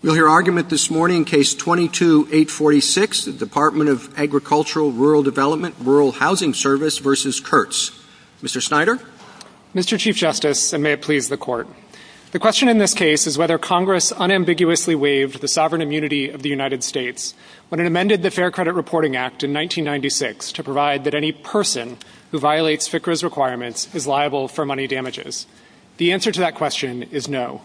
We'll hear argument this morning, Case 22-846, the Dept. of Agricultural Rural Development, Rural Housing Service v. Kirtz. Mr. Snyder? Mr. Chief Justice, and may it please the Court, the question in this case is whether Congress unambiguously waived the sovereign immunity of the United States when it amended the Fair Credit Reporting Act in 1996 to provide that any person who violates FCRA's requirements is liable for money damages. The answer to that question is no.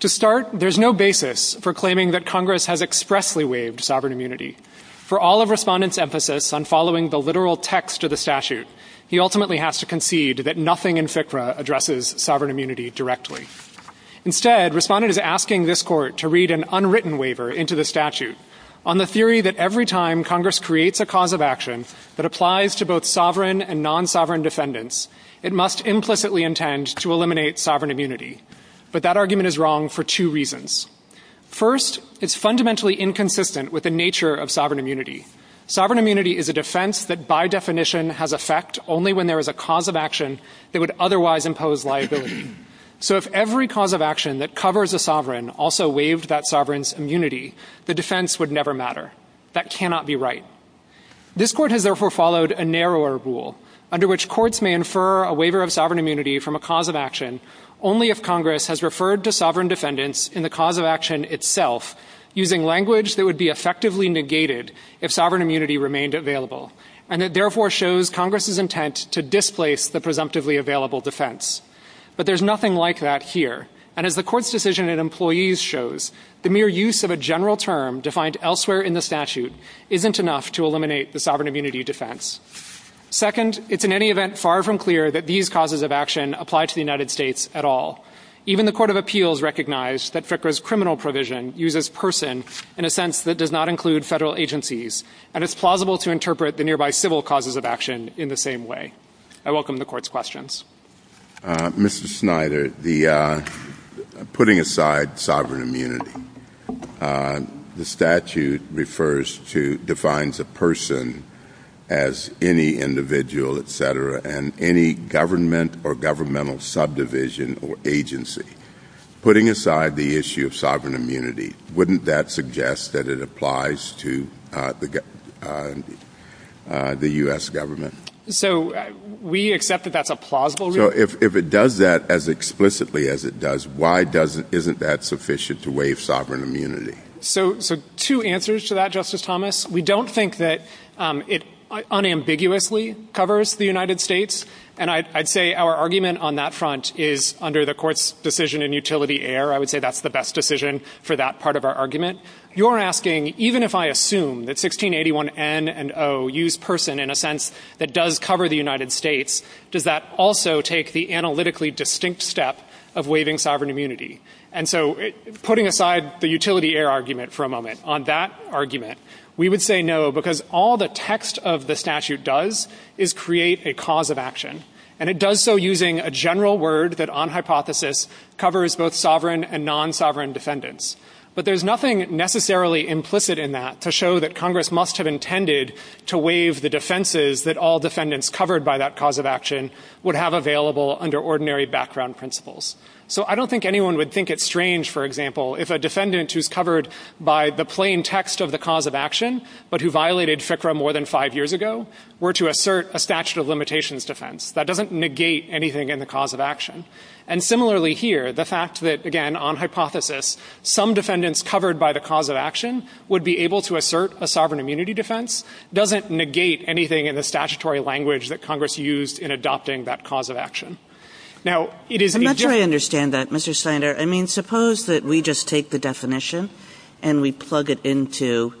To start, there's no basis for claiming that Congress has expressly waived sovereign immunity. For all of Respondent's emphasis on following the literal text of the statute, he ultimately has to concede that nothing in FCRA addresses sovereign immunity directly. Instead, Respondent is asking this Court to read an unwritten waiver into the statute on the theory that every time Congress creates a cause of action that applies to both sovereign and non-sovereign defendants, it must implicitly intend to eliminate sovereign immunity. But that argument is wrong for two reasons. First, it's fundamentally inconsistent with the nature of sovereign immunity. Sovereign immunity is a defense that by definition has effect only when there is a cause of action that would otherwise impose liability. So if every cause of action that covers a sovereign also waived that sovereign's immunity, the defense would never matter. That cannot be right. This Court has therefore followed a narrower rule, under which courts may infer a waiver of sovereign immunity from a cause of action only if Congress has referred to sovereign defendants in the cause of action itself using language that would be effectively negated if sovereign immunity remained available. And it therefore shows Congress's intent to displace the presumptively available defense. But there's nothing like that here. And as the Court's decision in Employees shows, the mere use of a general term defined elsewhere in the statute isn't enough to eliminate the sovereign immunity defense. Second, it's in any event far from clear that these causes of action apply to the United States at all. Even the Court of Appeals recognized that FICRA's criminal provision uses person in a sense that does not include federal agencies and is plausible to interpret the nearby civil causes of action in the same way. I welcome the Court's questions. Mr. Snyder, putting aside sovereign immunity, the statute defines a person as any individual, etc., and any government or governmental subdivision or agency. Putting aside the issue of sovereign immunity, wouldn't that suggest that it applies to the U.S. government? So we accept that that's a plausible reason. So if it does that as explicitly as it does, why isn't that sufficient to waive sovereign immunity? So two answers to that, Justice Thomas. We don't think that it unambiguously covers the United States. And I'd say our argument on that front is under the Court's decision in Utility Error. I would say that's the best decision for that part of our argument. You're asking, even if I assume that 1681N and O use person in a sense that does cover the United States, does that also take the analytically distinct step of waiving sovereign immunity? And so putting aside the Utility Error argument for a moment, on that argument, we would say no, because all the text of the statute does is create a cause of action. And it does so using a general word that, on hypothesis, covers both sovereign and non-sovereign defendants. But there's nothing necessarily implicit in that to show that Congress must have intended to waive the defenses that all defendants covered by that cause of action would have available under ordinary background principles. So I don't think anyone would think it's strange, for example, if a defendant who's covered by the plain text of the cause of action, but who violated FCRA more than five years ago, were to assert a statute of limitations defense. That doesn't negate anything in the cause of action. And similarly here, the fact that, again, on hypothesis, some defendants covered by the cause of action would be able to assert a sovereign immunity defense doesn't negate anything in the statutory language that Congress used in adopting that cause of action. Now, it is... I'm not sure I understand that, Mr. Snyder. I mean, suppose that we just take the definition and we plug it into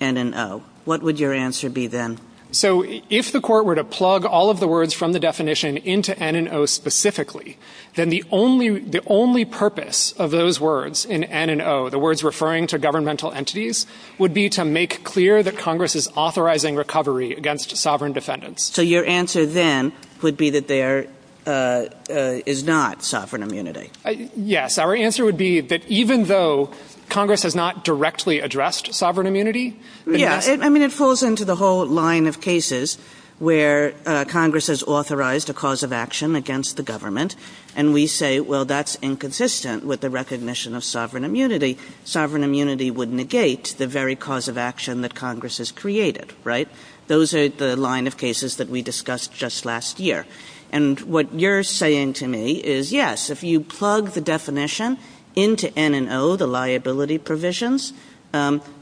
N&O. What would your answer be then? So if the Court were to plug all of the words from the definition into N&O specifically, then the only purpose of those words in N&O, the words referring to governmental entities, would be to make clear that Congress is authorizing recovery against sovereign defendants. So your answer then would be that there is not sovereign immunity. Yes. Our answer would be that even though Congress has not directly addressed sovereign immunity... Yeah, I mean, it falls into the whole line of cases where Congress has authorized a cause of action against the government and we say, well, that's inconsistent with the recognition of sovereign immunity, sovereign immunity would negate the very cause of action that Congress has created, right? Those are the line of cases that we discussed just last year. And what you're saying to me is, yes, if you plug the definition into N&O, the liability provisions,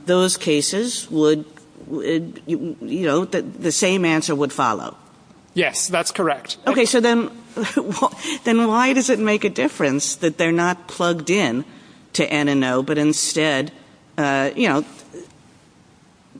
those cases would... you know, the same answer would follow. Yes, that's correct. Okay, so then why does it make a difference that they're not plugged in to N&O, but instead, you know,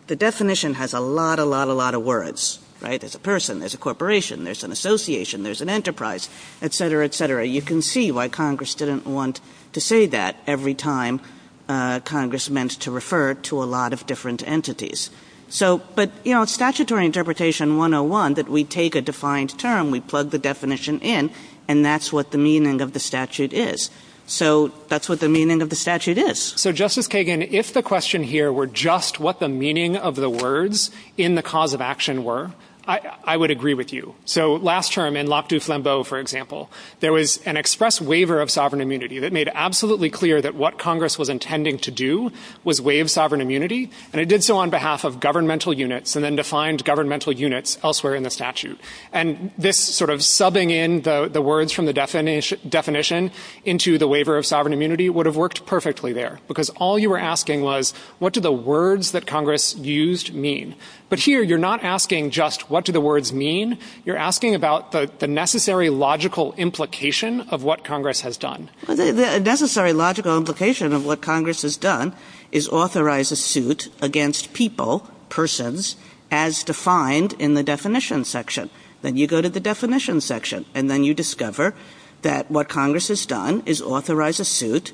the definition has a lot, a lot, a lot of words, right? There's a person, there's a corporation, there's an association, there's an enterprise, et cetera, et cetera. You can see why Congress didn't want to say that every time Congress meant to refer to a lot of different entities. So, but, you know, statutory interpretation 101, that we take a defined term, we plug the definition in, and that's what the meaning of the statute is. So that's what the meaning of the statute is. So, Justice Kagan, if the question here were just what the meaning of the words in the cause of action were, I would agree with you. So last term in Locke, Deuce, Lambeau, for example, there was an express waiver of sovereign immunity that made absolutely clear that what Congress was intending to do was waive sovereign immunity, and it did so on behalf of governmental units and then defined governmental units elsewhere in the statute. And this sort of subbing in the words from the definition into the waiver of sovereign immunity would have worked perfectly there, because all you were asking was, what do the words that Congress used mean? But here you're not asking just what do the words mean, you're asking about the necessary logical implication of what Congress has done. The necessary logical implication of what Congress has done is authorize a suit against people, persons, as defined in the definition section. Then you go to the definition section, and then you discover that what Congress has done is authorize a suit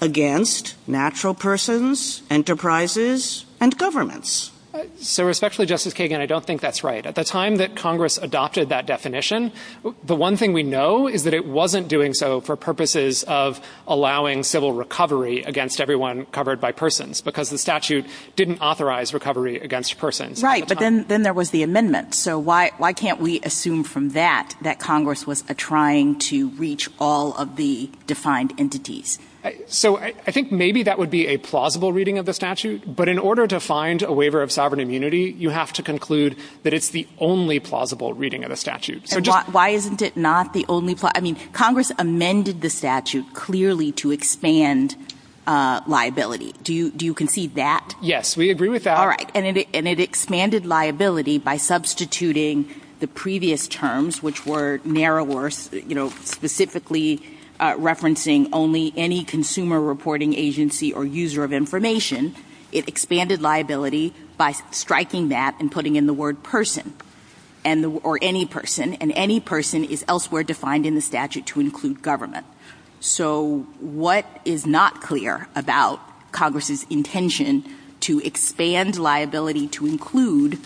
against natural persons, enterprises, and governments. So respectfully, Justice Kagan, I don't think that's right. At the time that Congress adopted that definition, the one thing we know is that it wasn't doing so for purposes of allowing civil recovery against everyone covered by persons, because the statute didn't authorize recovery against persons. Right, but then there was the amendment, so why can't we assume from that that Congress was trying to reach all of the defined entities? So I think maybe that would be a plausible reading of the statute, but in order to find a waiver of sovereign immunity, you have to conclude that it's the only plausible reading of the statute. Why isn't it not the only plausible? I mean, Congress amended the statute clearly to expand liability. Do you concede that? Yes, we agree with that. All right, and it expanded liability by substituting the previous terms, which were narrower, specifically referencing only any consumer reporting agency or user of information. It expanded liability by striking that and putting in the word person, or any person, and any person is elsewhere defined in the statute to include government. So what is not clear about Congress's intention to expand liability to include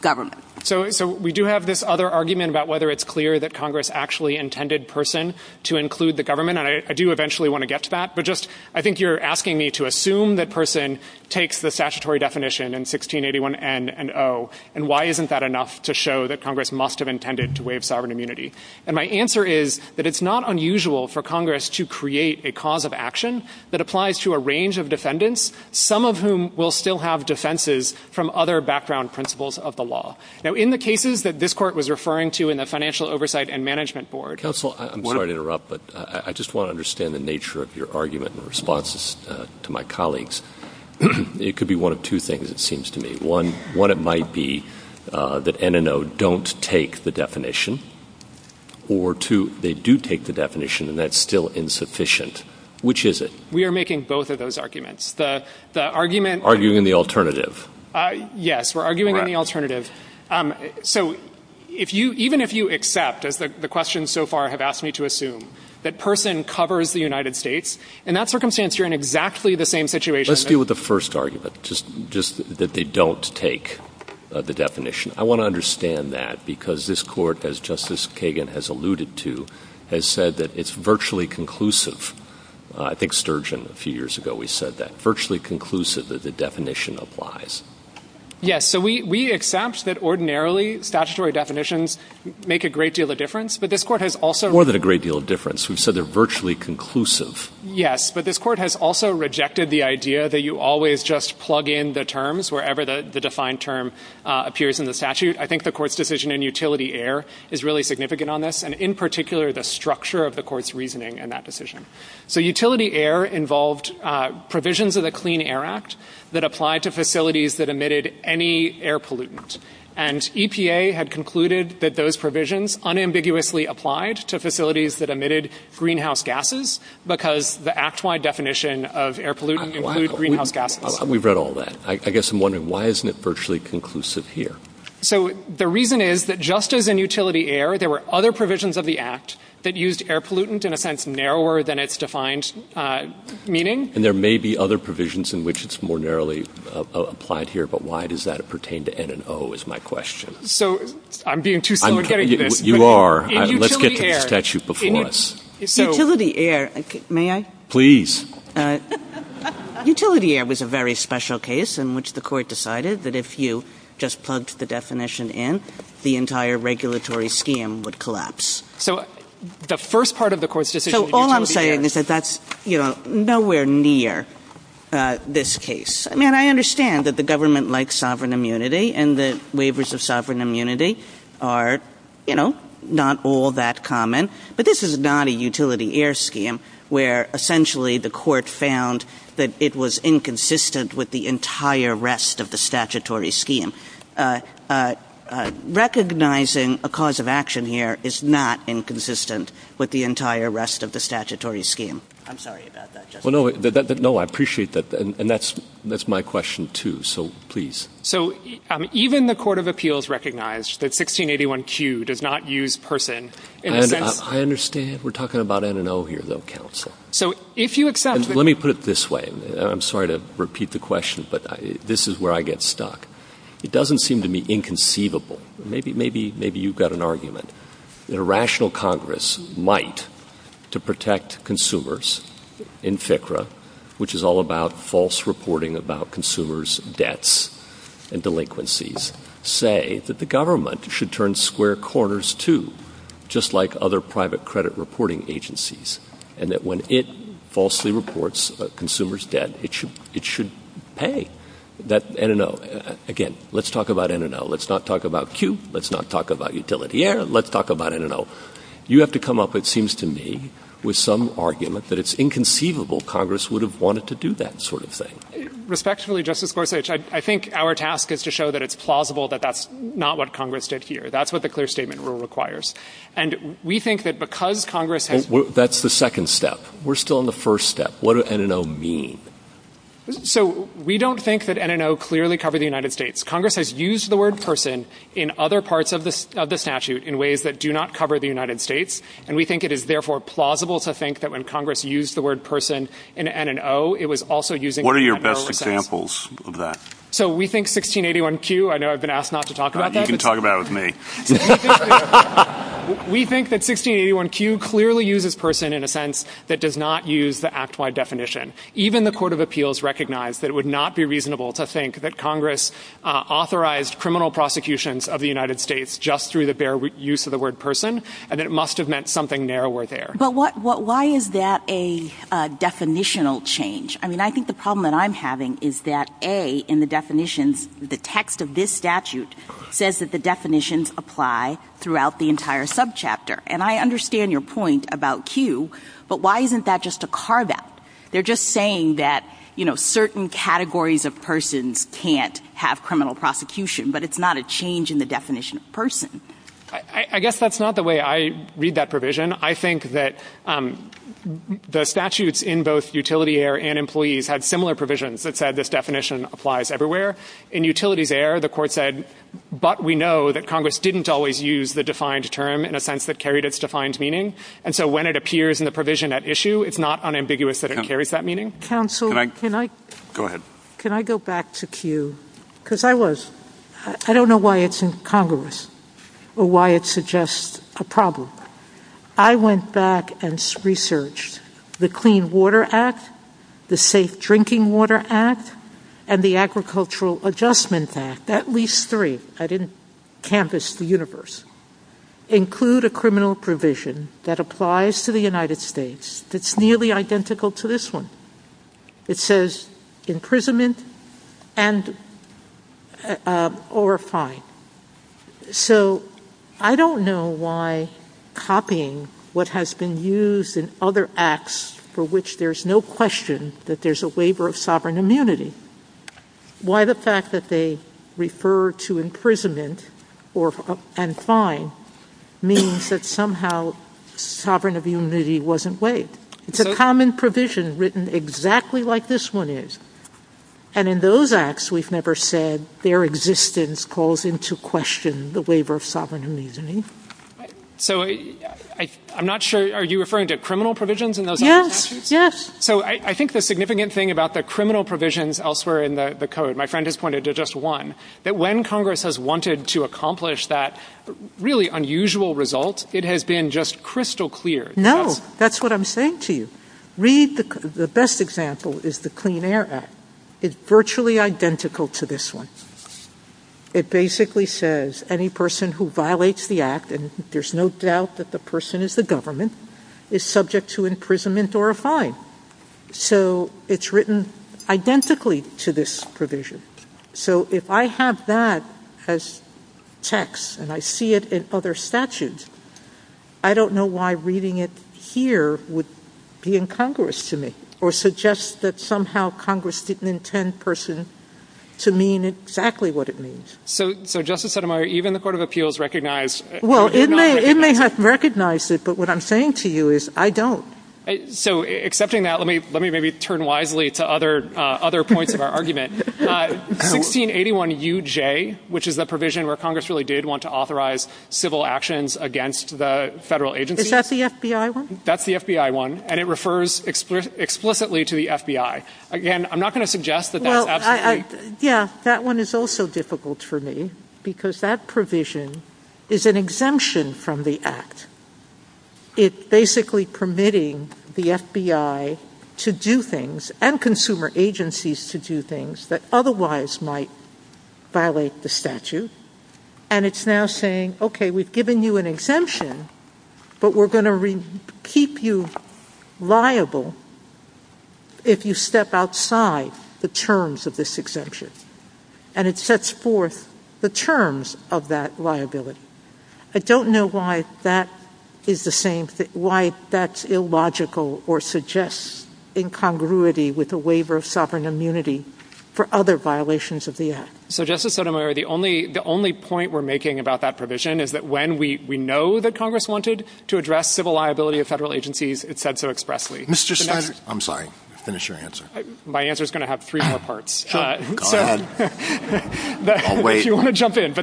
government? So we do have this other argument about whether it's clear that Congress actually intended person to include the government, and I do eventually want to get to that, but just I think you're asking me to assume that person takes the statutory definition in 1681N and O, and why isn't that enough to show that Congress must have intended to waive sovereign immunity? And my answer is that it's not unusual for Congress to create a cause of action that applies to a range of defendants, some of whom will still have defenses from other background principles of the law. Now, in the cases that this court was referring to in the Financial Oversight and Management Board... Counsel, I'm sorry to interrupt, but I just want to understand the nature of your argument in response to my colleagues. It could be one of two things, it seems to me. One, what it might be that N and O don't take the definition, or two, they do take the definition and that's still insufficient. Which is it? We are making both of those arguments. The argument... Arguing the alternative. Yes, we're arguing the alternative. So even if you accept, as the questions so far have asked me to assume, that person covers the United States, in that circumstance you're in exactly the same situation... Let's deal with the first argument, just that they don't take the definition. I want to understand that because this court, as Justice Kagan has alluded to, has said that it's virtually conclusive. I think Sturgeon, a few years ago, we said that virtually conclusive that the definition applies. Yes, so we accept that ordinarily statutory definitions make a great deal of difference, but this court has also... More than a great deal of difference. We've said they're virtually conclusive. Yes, but this court has also rejected the idea that you always just plug in the terms wherever the defined term appears in the statute. I think the court's decision in utility air is really significant on this, and in particular the structure of the court's reasoning in that decision. So utility air involved provisions of the Clean Air Act that applied to facilities that emitted any air pollutant. And EPA had concluded that those provisions unambiguously applied to facilities that emitted greenhouse gases because the act-wide definition of air pollutant included greenhouse gases. We've read all that. I guess I'm wondering, why isn't it virtually conclusive here? So the reason is that just as in utility air, there were other provisions of the act that used air pollutant in a sense narrower than its defined meaning. And there may be other provisions in which it's more narrowly applied here, but why does that pertain to N and O is my question. So I'm being too slow in getting this. You are. Let's get to the statute before us. Utility air, may I? Please. Utility air was a very special case in which the court decided that if you just plugged the definition in, the entire regulatory scheme would collapse. So the first part of the court's decision was utility air. So all I'm saying is that that's nowhere near this case. I mean, I understand that the government likes sovereign immunity and the waivers of sovereign immunity are not all that common, but this is not a utility air scheme where essentially the court found that it was inconsistent with the entire rest of the statutory scheme. Recognizing a cause of action here is not inconsistent with the entire rest of the statutory scheme. I'm sorry about that. No, I appreciate that. And that's my question too, so please. So even the Court of Appeals recognized that 1681Q does not use person. I understand. We're talking about N&O here, though, counsel. Let me put it this way. I'm sorry to repeat the question, but this is where I get stuck. It doesn't seem to me inconceivable, maybe you've got an argument, that a rational Congress might, to protect consumers in FCRA, which is all about false reporting about consumers' debts and delinquencies, say that the government should turn square corners too, just like other private credit reporting agencies, and that when it falsely reports consumers' debt, it should pay that N&O. Again, let's talk about N&O. Let's not talk about Q. Let's not talk about utility air. Let's talk about N&O. You have to come up, it seems to me, with some argument that it's inconceivable Congress would have wanted to do that sort of thing. Respectfully, Justice Gorsuch, I think our task is to show that it's plausible that that's not what Congress did here. That's what the clear statement rule requires. And we think that because Congress has... That's the second step. We're still in the first step. What does N&O mean? So we don't think that N&O clearly covered the United States. Congress has used the word person in other parts of the statute in ways that do not cover the United States, and we think it is, therefore, plausible to think that when Congress used the word person in N&O, it was also using N&O... What are your best examples of that? So we think 1681Q... I know I've been asked not to talk about that. You can talk about it with me. We think that 1681Q clearly uses person in a sense that does not use the act-wide definition. Even the Court of Appeals recognized that it would not be reasonable to think that Congress authorized criminal prosecutions of the United States just through the bare use of the word person, and it must have meant something narrower there. But why is there a definitional change? I mean, I think the problem that I'm having is that A, in the definitions, the text of this statute says that the definitions apply throughout the entire subchapter. And I understand your point about Q, but why isn't that just a carve-out? They're just saying that, you know, certain categories of persons can't have criminal prosecution, but it's not a change in the definition of person. I guess that's not the way I read that provision. I think that the statutes in both Utility Air and Employees had similar provisions that said this definition applies everywhere. In Utilities Air, the Court said, but we know that Congress didn't always use the defined term in a sense that carried its defined meaning, and so when it appears in the provision at issue, it's not unambiguous that it carries that meaning. Counsel, can I... Go ahead. Can I go back to Q? Because I was... I don't know why it's in Congress or why it suggests a problem. I went back and researched the Clean Water Act, the Safe Drinking Water Act, and the Agricultural Adjustment Act, at least three. I didn't canvas the universe. Include a criminal provision that applies to the United States that's nearly identical to this one. It says imprisonment and... or a fine. So I don't know why copying what has been used in other acts for which there's no question that there's a waiver of sovereign immunity, why the fact that they refer to imprisonment and fine means that somehow sovereign immunity wasn't waived. It's a common provision written exactly like this one is, and in those acts, we've never said that their existence calls into question the waiver of sovereign immunity. So I'm not sure. Are you referring to criminal provisions in those acts? Yes, yes. So I think the significant thing about the criminal provisions elsewhere in the code, my friend has pointed to just one, that when Congress has wanted to accomplish that really unusual result, it has been just crystal clear. No, that's what I'm saying to you. Read the best example is the Clean Air Act. It's virtually identical to this one. It basically says any person who violates the act, and there's no doubt that the person is the government, is subject to imprisonment or a fine. So it's written identically to this provision. So if I have that as text and I see it in other statutes, I don't know why reading it here would be incongruous to me or suggest that somehow Congress didn't intend a person to mean exactly what it means. So Justice Sotomayor, even the Court of Appeals recognized... Well, it may have recognized it, but what I'm saying to you is I don't. So accepting that, let me maybe turn wisely to other points of our argument. 1681 UJ, which is a provision where Congress really did want to authorize civil actions against the federal agency... Is that the FBI one? That's the FBI one, and it refers explicitly to the FBI. Again, I'm not going to suggest that... Yeah, that one is also difficult for me because that provision is an exemption from the act. It's basically permitting the FBI to do things and consumer agencies to do things that otherwise might violate the statute, and it's now saying, okay, we've given you an exemption, but we're going to keep you liable if you step outside the terms of this exemption, and it sets forth the terms of that liability. I don't know why that is the same thing, why that's illogical or suggests incongruity with the waiver of sovereign immunity for other violations of the act. So, Justice Sotomayor, the only point we're making about that provision is that when we know that Congress wanted to address civil liability of federal agencies, it said so expressly. I'm sorry, finish your answer. My answer is going to have three more parts. Go ahead. I'll wait. If you want to jump in.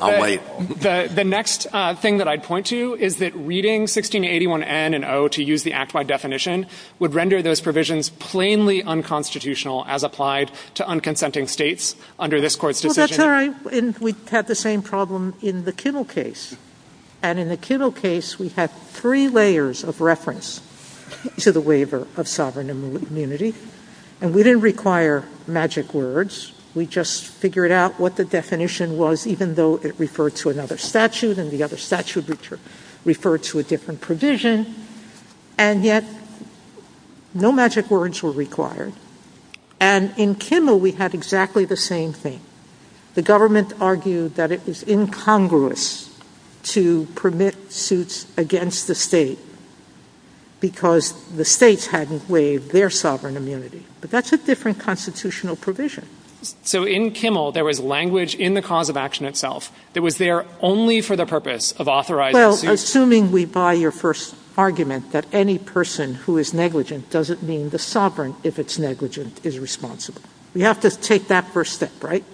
I'll wait. The next thing that I'd point to is that reading 1681N and O to use the act by definition would render those provisions plainly unconstitutional as applied to unconsenting states under this court's decision. I'm sorry, we had the same problem in the Kittle case. And in the Kittle case, we had three layers of reference to the waiver of sovereign immunity, and we didn't require magic words. We just figured out what the definition was, even though it referred to another statute and the other statute referred to a different provision, and yet no magic words were required. And in Kimmel, we had exactly the same thing. The government argued that it is incongruous to permit suits against the state because the states hadn't waived their sovereign immunity. But that's a different constitutional provision. So in Kimmel, there was language in the cause of action itself that was there only for the purpose of authorizing suits. Well, assuming we buy your first argument that any person who is negligent doesn't mean the sovereign, if it's negligent, is responsible. We have to take that first step, right?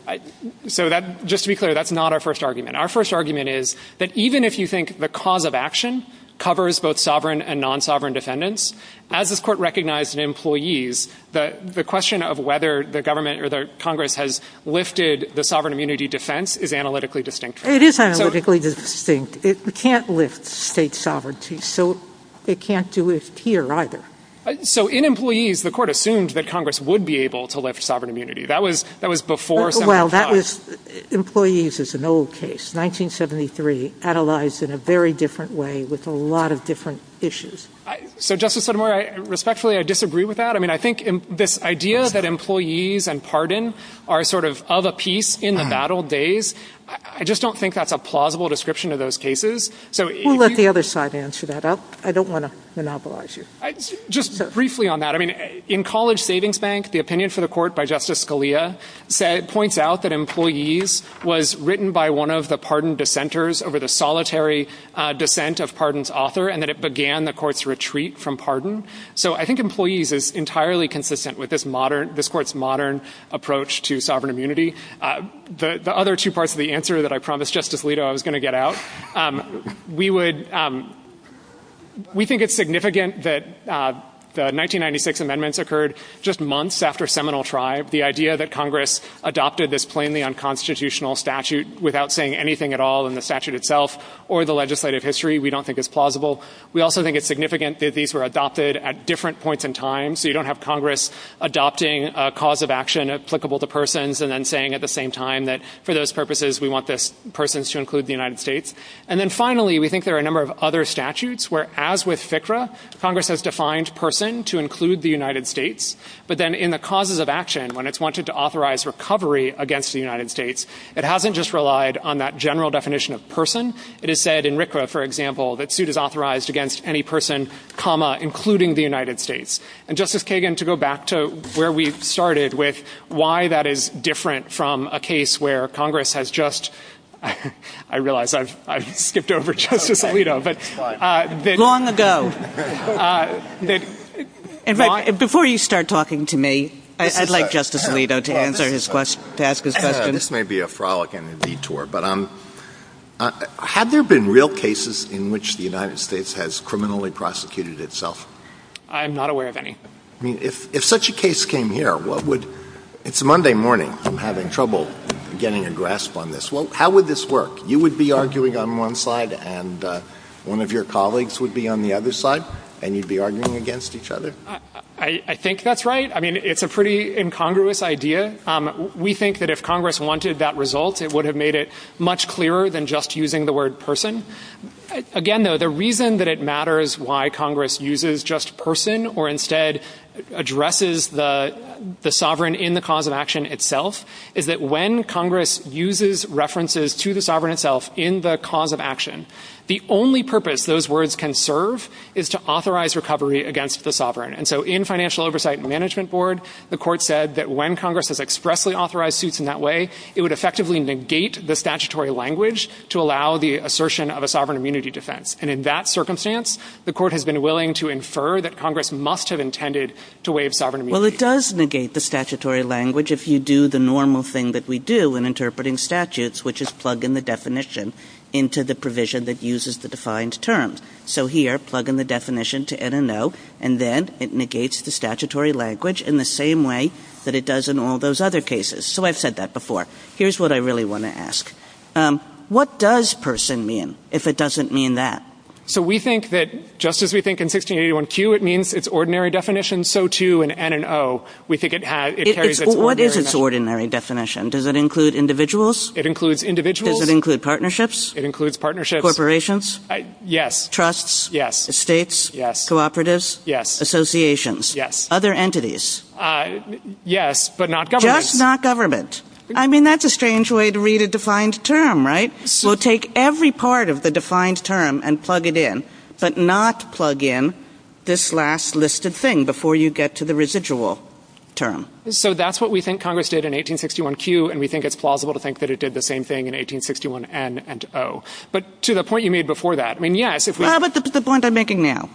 So just to be clear, that's not our first argument. Our first argument is that even if you think the cause of action covers both sovereign and non-sovereign defendants, as this court recognized in employees, the question of whether the government or the Congress has lifted the sovereign immunity defense is analytically distinct. It is analytically distinct. It can't lift state sovereignty, so it can't do it here either. So in employees, the court assumed that Congress would be able to lift sovereign immunity. That was before... Well, that was... Employees is an old case, 1973, analyzed in a very different way with a lot of different issues. So, Justice Sotomayor, respectfully, I disagree with that. I mean, I think this idea that employees and pardon are sort of of a piece in the battle days, I just don't think that's a plausible description of those cases. Who let the other side answer that? I don't want to monopolize you. Just briefly on that, I mean, in College Savings Bank, the opinion for the court by Justice Scalia points out that employees was written by one of the pardon dissenters over the solitary dissent of pardon's author, and that it began the court's retreat from pardon. So I think employees is entirely consistent with this court's modern approach to sovereign immunity. The other two parts of the answer that I promised Justice Alito I was going to get out is that we think it's significant that the 1996 amendments occurred just months after Seminole Tribe. The idea that Congress adopted this plainly unconstitutional statute without saying anything at all in the statute itself or the legislative history, we don't think is plausible. We also think it's significant that these were adopted at different points in time, so you don't have Congress adopting a cause of action applicable to persons and then saying at the same time that for those purposes, we want persons to include the United States. And then finally, we think there are a number of other statutes where, as with FCRA, Congress has defined person to include the United States, but then in the causes of action, when it's wanted to authorize recovery against the United States, it hasn't just relied on that general definition of person. It has said in RCRA, for example, that suit is authorized against any person, including the United States. And Justice Kagan, to go back to where we started with why that is different from a case where Congress has just... I realize I've skipped over Justice Alito, but... Long ago. Before you start talking to me, I'd like Justice Alito to ask his questions. This may be a frolic and a detour, but have there been real cases in which the United States has criminally prosecuted itself? I'm not aware of any. I mean, if such a case came here, what would... It's Monday morning. I'm having trouble getting a grasp on this. Well, how would this work? You would be arguing on one side and one of your colleagues would be on the other side, and you'd be arguing against each other. I think that's right. I mean, it's a pretty incongruous idea. We think that if Congress wanted that result, it would have made it much clearer than just using the word person. Again, though, the reason that it matters why Congress uses just person or instead addresses the sovereign in the cause of action itself is that when Congress uses references to the sovereign itself in the cause of action, the only purpose those words can serve is to authorize recovery against the sovereign. And so in Financial Oversight Management Board, the court said that when Congress has expressly authorized suits in that way, it would effectively negate the statutory language to allow the assertion of a sovereign immunity defense. And in that circumstance, the court has been willing to infer that Congress must have intended to waive sovereign immunity. Well, it does negate the statutory language if you do the normal thing that we do when interpreting statutes, which is plug in the definition into the provision that uses the defined terms. So here, plug in the definition to enter no, and then it negates the statutory language in the same way that it does in all those other cases. So I've said that before. Here's what I really want to ask. What does person mean if it doesn't mean that? So we think that just as we think in 1681Q, it means its ordinary definition, so too in N and O. We think it carries its ordinary definition. What is its ordinary definition? Does it include individuals? It includes individuals. Does it include partnerships? It includes partnerships. Corporations? Yes. Trusts? Yes. Estates? Yes. Cooperatives? Yes. Associations? Yes. Other entities? Yes, but not government. Just not government. I mean, that's a strange way to read a defined term, right? We'll take every part of the defined term and plug it in, but not plug in this last listed thing before you get to the residual term. So that's what we think Congress did in 1861Q, and we think it's plausible to think that it did the same thing in 1861N and O. But to the point you made before that, I mean, yes. What about the point I'm making now?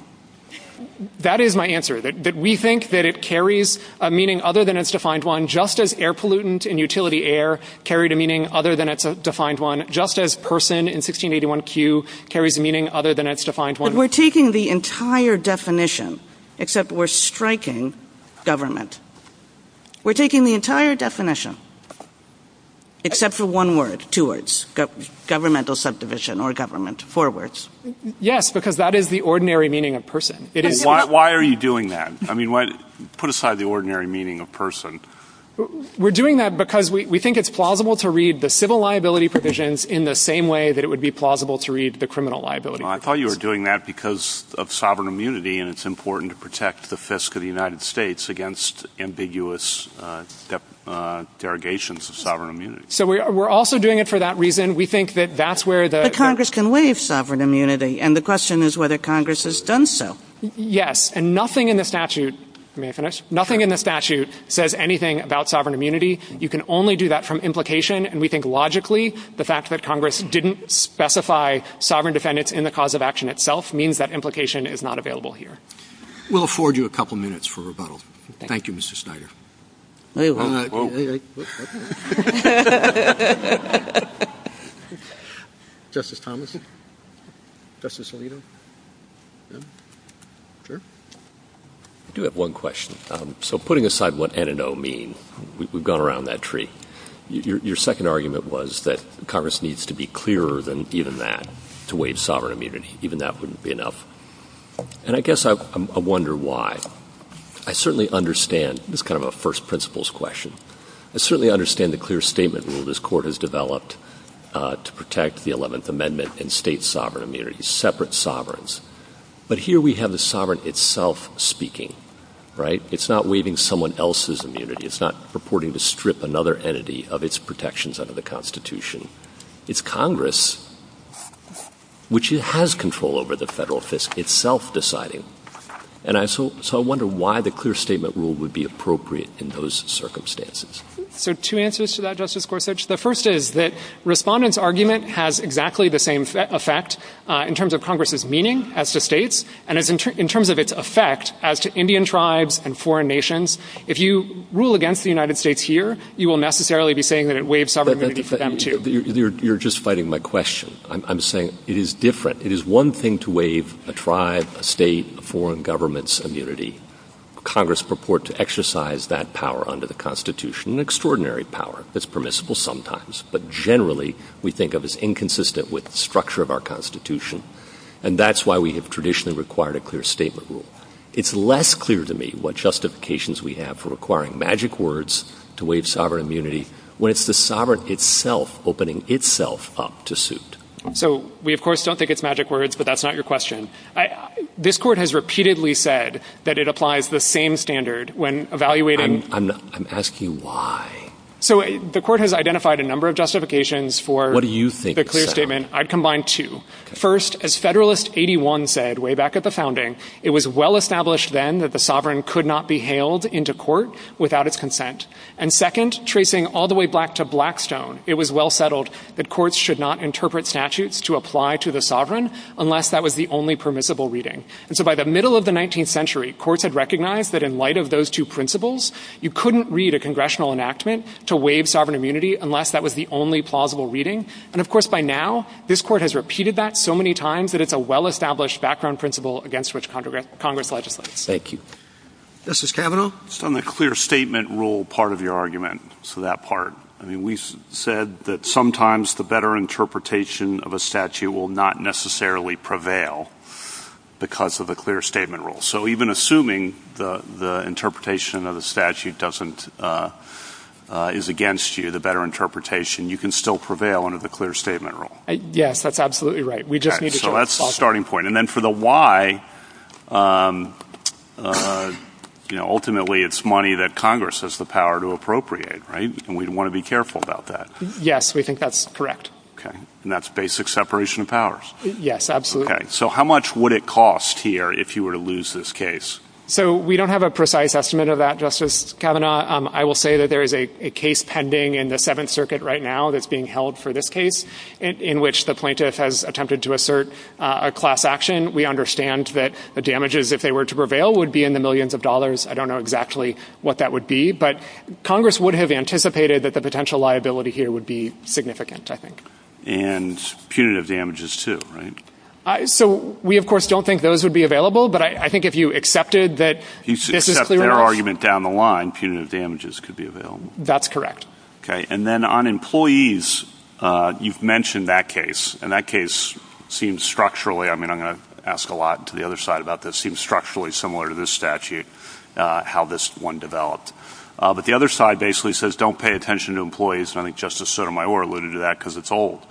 That is my answer, that we think that it carries a meaning other than its defined one, just as air pollutant and utility air carried a meaning other than its defined one, just as person in 1681Q carries a meaning other than its defined one. But we're taking the entire definition, except we're striking government. We're taking the entire definition, except for one word, two words, governmental subdivision or government, four words. Yes, because that is the ordinary meaning of person. Why are you doing that? I mean, put aside the ordinary meaning of person. We're doing that because we think it's plausible to read the civil liability provisions in the same way that it would be plausible to read the criminal liability provisions. Well, I thought you were doing that because of sovereign immunity, and it's important to protect the fiscal United States against ambiguous derogations of sovereign immunity. So we're also doing it for that reason. We think that that's where the... But Congress can waive sovereign immunity, and the question is whether Congress has done so. Yes, and nothing in the statute... May I finish? Nothing in the statute says anything about sovereign immunity. You can only do that from implication, and we think, logically, the fact that Congress didn't specify sovereign defendants in the cause of action itself means that implication is not available here. We'll afford you a couple minutes for rebuttal. Thank you, Mr. Snyder. All right. Justice Thomason? Justice Alito? Sure. I do have one question. So putting aside what N and O mean, we've gone around that tree. Your second argument was that Congress needs to be clearer than even that to waive sovereign immunity. Even that wouldn't be enough. And I guess I wonder why. I certainly understand... This is kind of a first principles question. I certainly understand the clear statement rule this Court has developed to protect the 11th Amendment and state sovereign immunity, separate sovereigns. But here we have the sovereign itself speaking, right? It's not waiving someone else's immunity. It's not purporting to strip another entity of its protections under the Constitution. It's Congress, which has control over the federal fiscal... It's self-deciding. And so I wonder why the clear statement rule would be appropriate in those circumstances. So two answers to that, Justice Gorsuch. The first is that Respondent's argument has exactly the same effect in terms of Congress's meaning as to states and in terms of its effect as to Indian tribes and foreign nations. If you rule against the United States here, you will necessarily be saying that it waives sovereign immunity for them, too. You're just fighting my question. I'm saying it is different. It is one thing to waive a tribe, a state, foreign government's immunity. Congress purport to exercise that power under the Constitution, an extraordinary power that's permissible sometimes, but generally we think of as inconsistent with the structure of our Constitution. And that's why we have traditionally required a clear statement rule. It's less clear to me what justifications we have for requiring magic words to waive sovereign immunity when it's the sovereign itself opening itself up to suit. So we of course don't think it's magic words, but that's not your question. This court has repeatedly said that it applies the same standard when evaluating... I'm asking you why. So the court has identified a number of justifications for... What do you think? ...the clear statement. I've combined two. First, as Federalist 81 said way back at the founding, it was well-established then that the sovereign could not be hailed into court without its consent. And second, tracing all the way back to Blackstone, it was well settled that courts should not interpret statutes to apply to the sovereign unless that was the only permissible reading. And so by the middle of the 19th century, courts had recognized that in light of those two principles, you couldn't read a congressional enactment to waive sovereign immunity unless that was the only plausible reading. And of course by now, this court has repeated that so many times that it's a well-established background principle against which Congress legislates. Thank you. Justice Kavanaugh? It's on the clear statement rule part of your argument. So that part. I mean, we said that sometimes the better interpretation of a statute will not necessarily prevail because of the clear statement rule. So even assuming the interpretation of the statute doesn't... is against you, the better interpretation, you can still prevail under the clear statement rule. Yes, that's absolutely right. We just need to... So that's the starting point. And then for the why, you know, ultimately it's money that Congress has the power to appropriate, right? And we want to be careful about that. Yes, we think that's correct. Okay. And that's basic separation of powers? Yes, absolutely. Okay. So how much would it cost here if you were to lose this case? So we don't have a precise estimate of that, Justice Kavanaugh. I will say that there is a case pending in the Seventh Circuit right now that's being held for this case in which the plaintiff has attempted to assert a class action. We understand that the damages, if they were to prevail, would be in the millions of dollars. I don't know exactly what that would be, but Congress would have anticipated that the potential liability here would be significant, I think. And punitive damages, too, right? So we, of course, don't think those would be available, but I think if you accepted that... He accepts their argument down the line, punitive damages could be available. That's correct. Okay. And then on employees, you've mentioned that case, and that case seems structurally... I get asked a lot to the other side about this, seems structurally similar to this statute, how this one developed. But the other side basically says, don't pay attention to employees, and I think Justice Sotomayor alluded to that because it's an old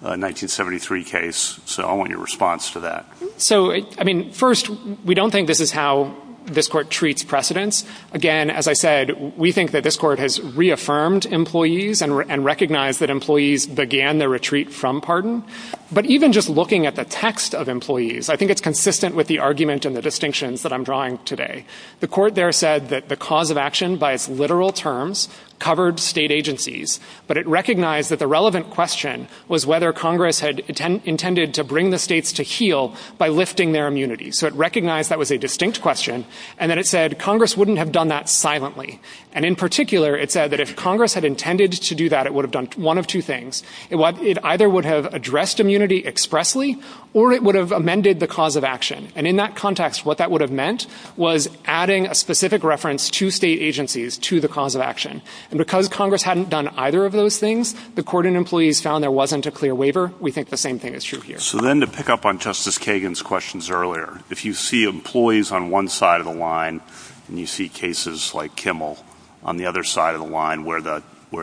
1973 case, so I want your response to that. So, I mean, first, we don't think this is how this Court treats precedence. Again, as I said, we think that this Court has reaffirmed employees and recognized that employees began their retreat from pardon. But even just looking at the text of employees, I think it's consistent with the argument and the distinctions that I'm drawing today. The Court there said that the cause of action, by its literal terms, covered state agencies, but it recognized that the relevant question was whether Congress had intended to bring the states to heel by lifting their immunity. So it recognized that was a distinct question, and then it said Congress wouldn't have done that silently. And in particular, it said that if Congress had intended to do that, it would have done one of two things. It either would have addressed immunity expressly, or it would have amended the cause of action. And in that context, what that would have meant was adding a specific reference to state agencies to the cause of action. And because Congress hadn't done either of those things, the Court and employees found there wasn't a clear waiver. We think the same thing is true here. So then to pick up on Justice Kagan's questions earlier, if you see employees on one side of the line and you see cases like Kimmel on the other side of the line where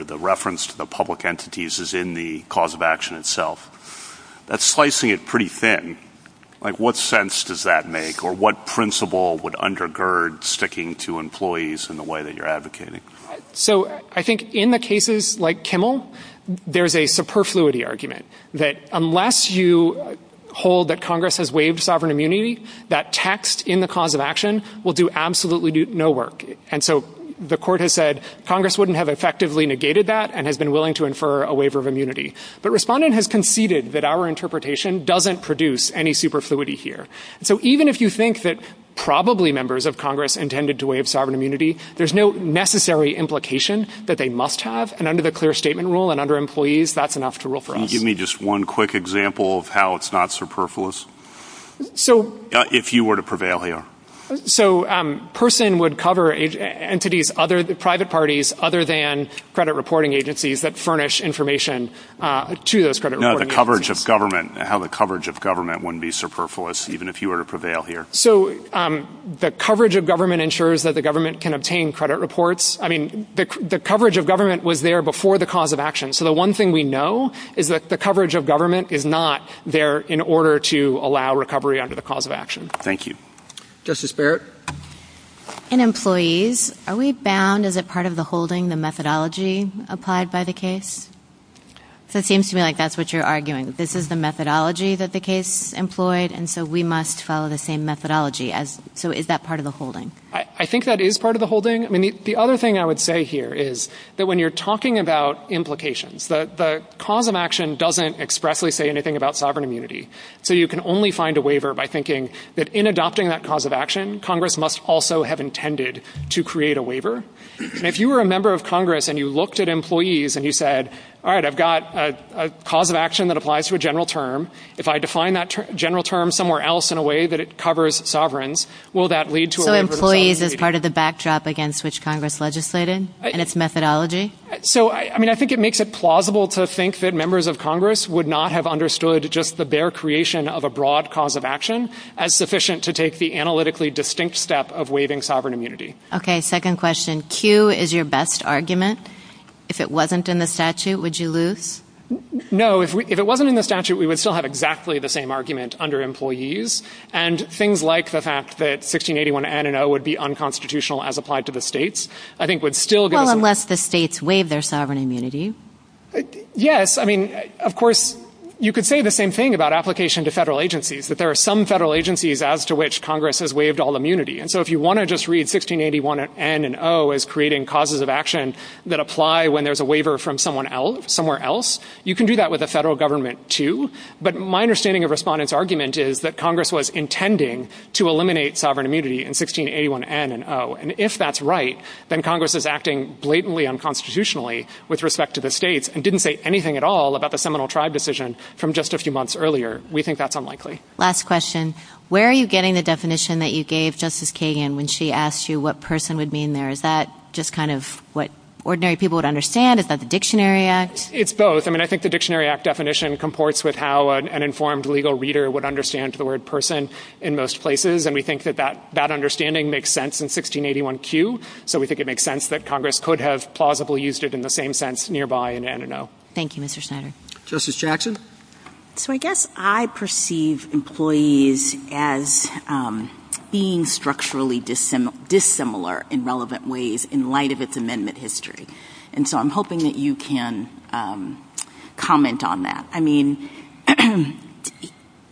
the reference to the public entities is in the cause of action itself, that's slicing it pretty thin. Like, what sense does that make? Or what principle would undergird sticking to employees in the way that you're advocating? So I think in the cases like Kimmel, there's a superfluity argument that unless you hold that Congress has waived sovereign immunity, that text in the cause of action will do absolutely no work. And so the Court has said Congress wouldn't have effectively negated that and has been willing to infer a waiver of immunity. But Respondent has conceded that our interpretation doesn't produce any superfluity here. So even if you think that probably members of Congress intended to waive sovereign immunity, there's no necessary implication that they must have. And under the clear statement rule and under employees, that's enough to rule for us. Can you give me just one quick example of how it's not superfluous? So... If you were to prevail here. So a person would cover entities other than private parties, other than credit reporting agencies that furnish information to those credit reporting agencies. No, the coverage of government, how the coverage of government wouldn't be superfluous, even if you were to prevail here. So the coverage of government ensures that the government can obtain credit reports. I mean, the coverage of government was there before the cause of action. So the one thing we know is that the coverage of government is not there in order to allow recovery under the cause of action. Thank you. Justice Barrett? In employees, are we bound? Is it part of the holding, the methodology applied by the case? So it seems to me like that's what you're arguing. This is the methodology that the case employed, and so we must follow the same methodology. So is that part of the holding? I think that is part of the holding. I mean, the other thing I would say here is that when you're talking about implications, the cause of action doesn't expressly say anything about sovereign immunity. So you can only find a waiver by thinking that in adopting that cause of action, Congress must also have intended to create a waiver. And if you were a member of Congress and you looked at employees and you said, all right, I've got a cause of action that applies to a general term. If I define that general term somewhere else in a way that it covers sovereigns, will that lead to a waiver? So employees is part of the backdrop against which Congress legislated and its methodology? So, I mean, I think it makes it plausible to think that members of Congress would not have understood just the bare creation of a broad cause of action as sufficient to take the analytically distinct step of waiving sovereign immunity. Okay, second question. Q is your best argument. If it wasn't in the statute, would you lose? No, if it wasn't in the statute, we would still have exactly the same argument under employees. And things like the fact that 1681 N and O would be unconstitutional as applied to the states, I think would still give us... Well, unless the states waive their sovereign immunity. Yes, I mean, of course, you could say the same thing about application to federal agencies, that there are some federal agencies as to which Congress has waived all immunity. And so if you wanna just read 1681 N and O as creating causes of action that apply when there's a waiver from someone else, somewhere else, you can do that with a federal government too. But my understanding of respondents' argument is that Congress was intending to eliminate sovereign immunity in 1681 N and O. And if that's right, then Congress is acting blatantly unconstitutionally with respect to the states and didn't say anything at all about the Seminole Tribe decision from just a few months earlier. We think that's unlikely. Last question. Where are you getting the definition that you gave Justice Kagan when she asked you what person would mean there? Is that just kind of what ordinary people would understand? Is that the Dictionary Act? It's both. I mean, I think the Dictionary Act definition comports with how an informed legal reader would understand the word person in most places. And we think that that understanding makes sense in 1681 Q. So we think it makes sense that Congress could have plausibly used it in the same sense nearby in N and O. Thank you, Mr. Schneider. Justice Jackson? So I guess I perceive employees as being structurally dissimilar in relevant ways in light of its amendment history. And so I'm hoping that you can comment on that. I mean,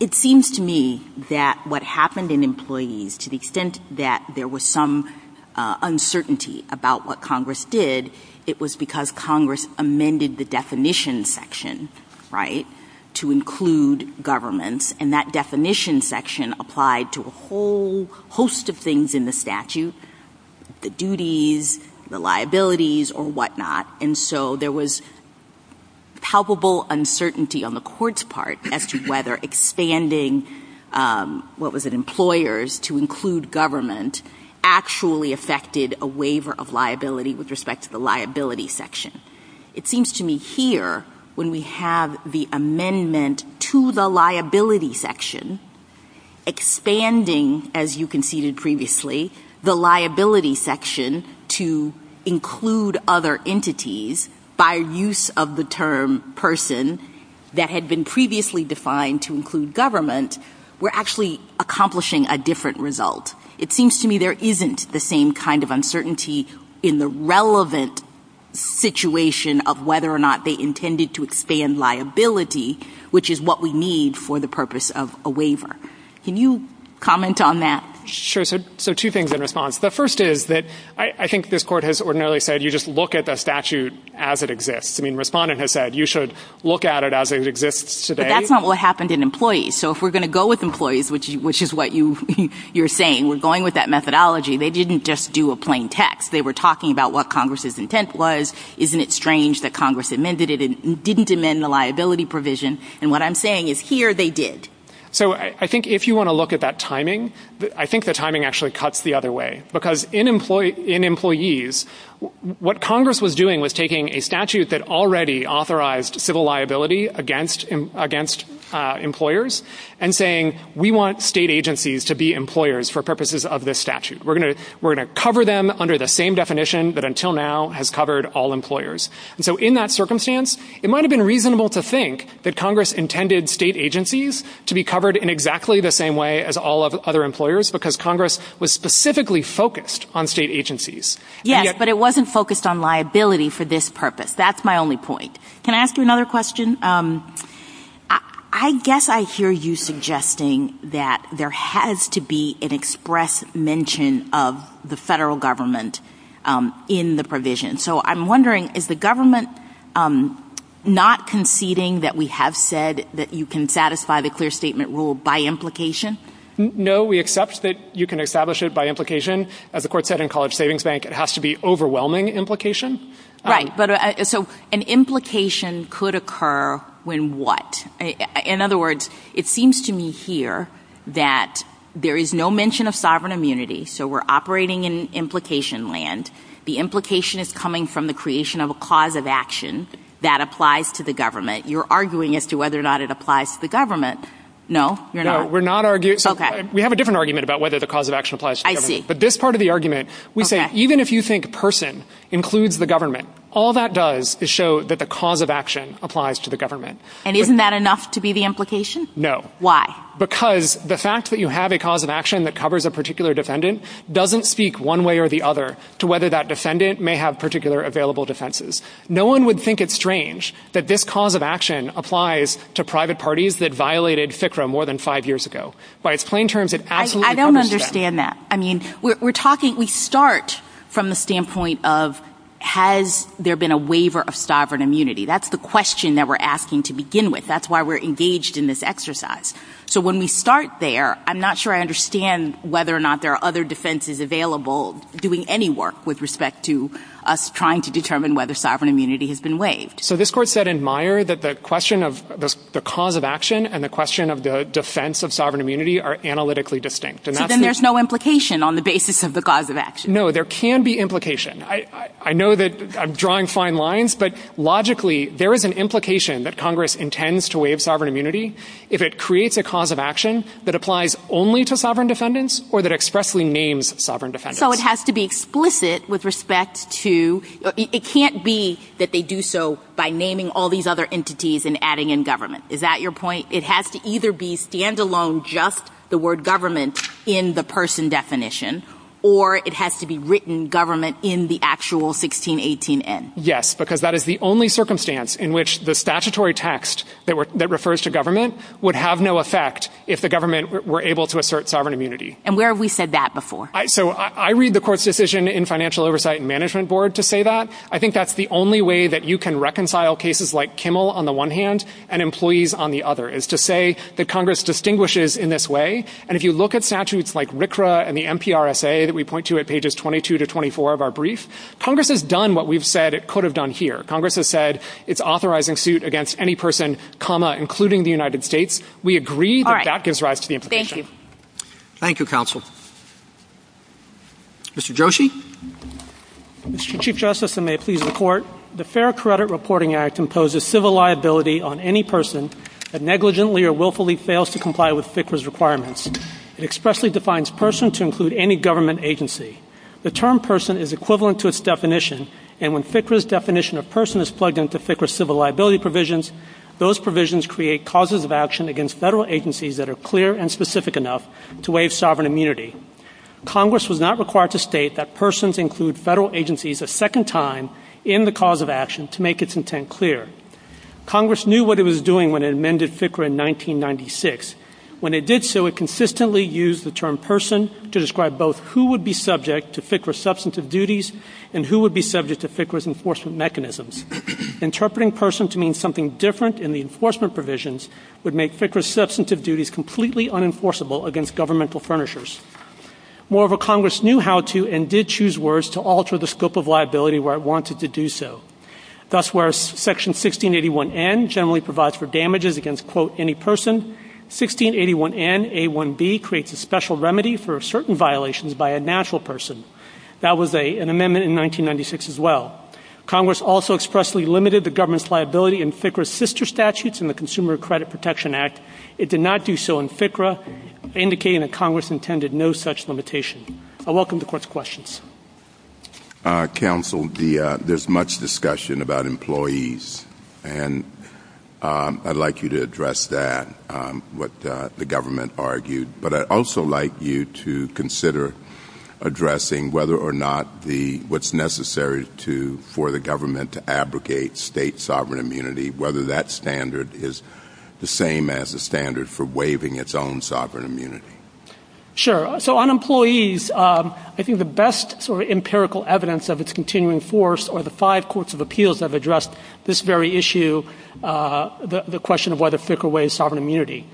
it seems to me that what happened in employees, to the extent that there was some uncertainty about what Congress did, it was because Congress amended the definition section, right, to include government. And that definition section applied to a whole host of things in the statute, the duties, the liabilities, or whatnot. And so there was palpable uncertainty on the court's part as to whether expanding, what was it, employers to include government actually affected a waiver of liability with respect to the liability section. It seems to me here, when we have the amendment to the liability section, expanding, as you conceded previously, the liability section to include other entities by use of the term person that had been previously defined to include government, we're actually accomplishing a different result. It seems to me there isn't the same kind of uncertainty in the relevant situation of whether or not they intended to expand liability, which is what we need for the purpose of a waiver. Can you comment on that? Sure, so two things in response. The first is that I think this court has ordinarily said you just look at the statute as it exists. I mean, respondent has said you should look at it as it exists today. But that's not what happened in employees. So if we're gonna go with employees, which is what you're saying, we're going with that methodology, they didn't just do a plain text. They were talking about what Congress's intent was. Isn't it strange that Congress amended it and didn't amend the liability provision? And what I'm saying is here they did. So I think if you want to look at that timing, I think the timing actually cuts the other way because in employees, what Congress was doing was taking a statute that already authorized civil liability against employers and saying, we want state agencies to be employers for purposes of this statute. We're gonna cover them under the same definition that until now has covered all employers. And so in that circumstance, it might have been reasonable to think that Congress intended state agencies to be covered in exactly the same way as all of the other employers because Congress was specifically focused on state agencies. Yes, but it wasn't focused on liability for this purpose. That's my only point. Can I ask you another question? I guess I hear you suggesting that there has to be an express mention of the federal government in the provision. So I'm wondering, is the government not conceding that we have said that you can satisfy the clear statement rule by implication? No, we accept that you can establish it by implication. As the court said in College Savings Bank, it has to be overwhelming implication. Right, but so an implication could occur when what? In other words, it seems to me here that there is no mention of sovereign immunity, so we're operating in implication land. The implication is coming from the creation of a cause of action that applies to the government. You're arguing as to whether or not it applies to the government. No, you're not? No, we're not arguing. Okay. We have a different argument about whether the cause of action applies to the government. I see. But this part of the argument, we think even if you think person includes the government, all that does is show that the cause of action applies to the government. And isn't that enough to be the implication? No. Why? Because the fact that you have a cause of action that covers a particular defendant doesn't speak one way or the other to whether that defendant may have particular available defenses. No one would think it strange that this cause of action applies to private parties that violated FCRA more than five years ago. By its plain terms, it absolutely covers the government. I don't understand that. I mean, we're talking, we start from the standpoint of has there been a waiver of sovereign immunity? That's the question that we're asking to begin with. That's why we're engaged in this exercise. So when we start there, I'm not sure I understand whether or not there are other defenses available doing any work with respect to us trying to determine whether sovereign immunity has been waived. So this court said in Meyer that the question of the cause of action and the question of the defense of sovereign immunity are analytically distinct. So then there's no implication on the basis of the cause of action. No, there can be implication. I know that I'm drawing fine lines, but logically, there is an implication that Congress intends to waive sovereign immunity if it creates a cause of action that applies only to sovereign defendants or that expressly names sovereign defendants. So it has to be explicit with respect to, it can't be that they do so by naming all these other entities and adding in government. Is that your point? It has to either be standalone just the word government in the person definition or it has to be written government in the actual 1618 N. Yes, because that is the only circumstance in which the statutory text that refers to government would have no effect if the government were able to assert sovereign immunity. And where have we said that before? So I read the court's decision in financial oversight and management board to say that. I think that's the only way that you can reconcile cases like Kimmel on the one hand and employees on the other is to say that Congress distinguishes in this way. And if you look at statutes like RCRA and the NPRSA that we point to at pages 22 to 24 of our brief, Congress has done what we've said it could have done here. Congress has said it's authorizing suit against any person, including the United States. We agree that that gives rise to the imposition. Thank you. Thank you, counsel. Mr. Joshi? Mr. Chief Justice, and may it please the court, the Fair Credit Reporting Act imposes civil liability on any person that negligently or willfully fails to comply with FCRA's requirements. It expressly defines person to include any government agency. The term person is equivalent to its definition and when FCRA's definition of person is plugged into FCRA's civil liability provisions, those provisions create causes of action against federal agencies that are clear and specific enough to waive sovereign immunity. Congress was not required to state that persons include federal agencies a second time in the cause of action to make its intent clear. Congress knew what it was doing when it amended FCRA in 1996. When it did so, it consistently used the term person to describe both who would be subject to FCRA substantive duties and who would be subject to FCRA's enforcement mechanisms. Interpreting person to mean something different in the enforcement provisions would make FCRA's substantive duties completely unenforceable against governmental furnishers. Moreover, Congress knew how to and did choose words to alter the scope of liability where it wanted to do so. Thus, whereas Section 1681N generally provides for damages against, quote, any person, 1681N-A1B creates a special remedy for certain violations by a natural person. That was an amendment in 1996 as well. Congress also expressly limited the government's liability in FCRA's sister statutes in the Consumer Credit Protection Act. It did not do so in FCRA, indicating that Congress intended no such limitation. I welcome the Court's questions. Counsel, there's much discussion about employees, and I'd like you to address that, what the government argued, but I'd also like you to consider addressing whether or not what's necessary for the government to abrogate state sovereign immunity, whether that standard is the same as the standard for waiving its own sovereign immunity. Sure. So on employees, I think the best sort of empirical evidence of its continuing force are the five courts of appeals that have addressed this very issue, the question of whether FCRA waives sovereign immunity.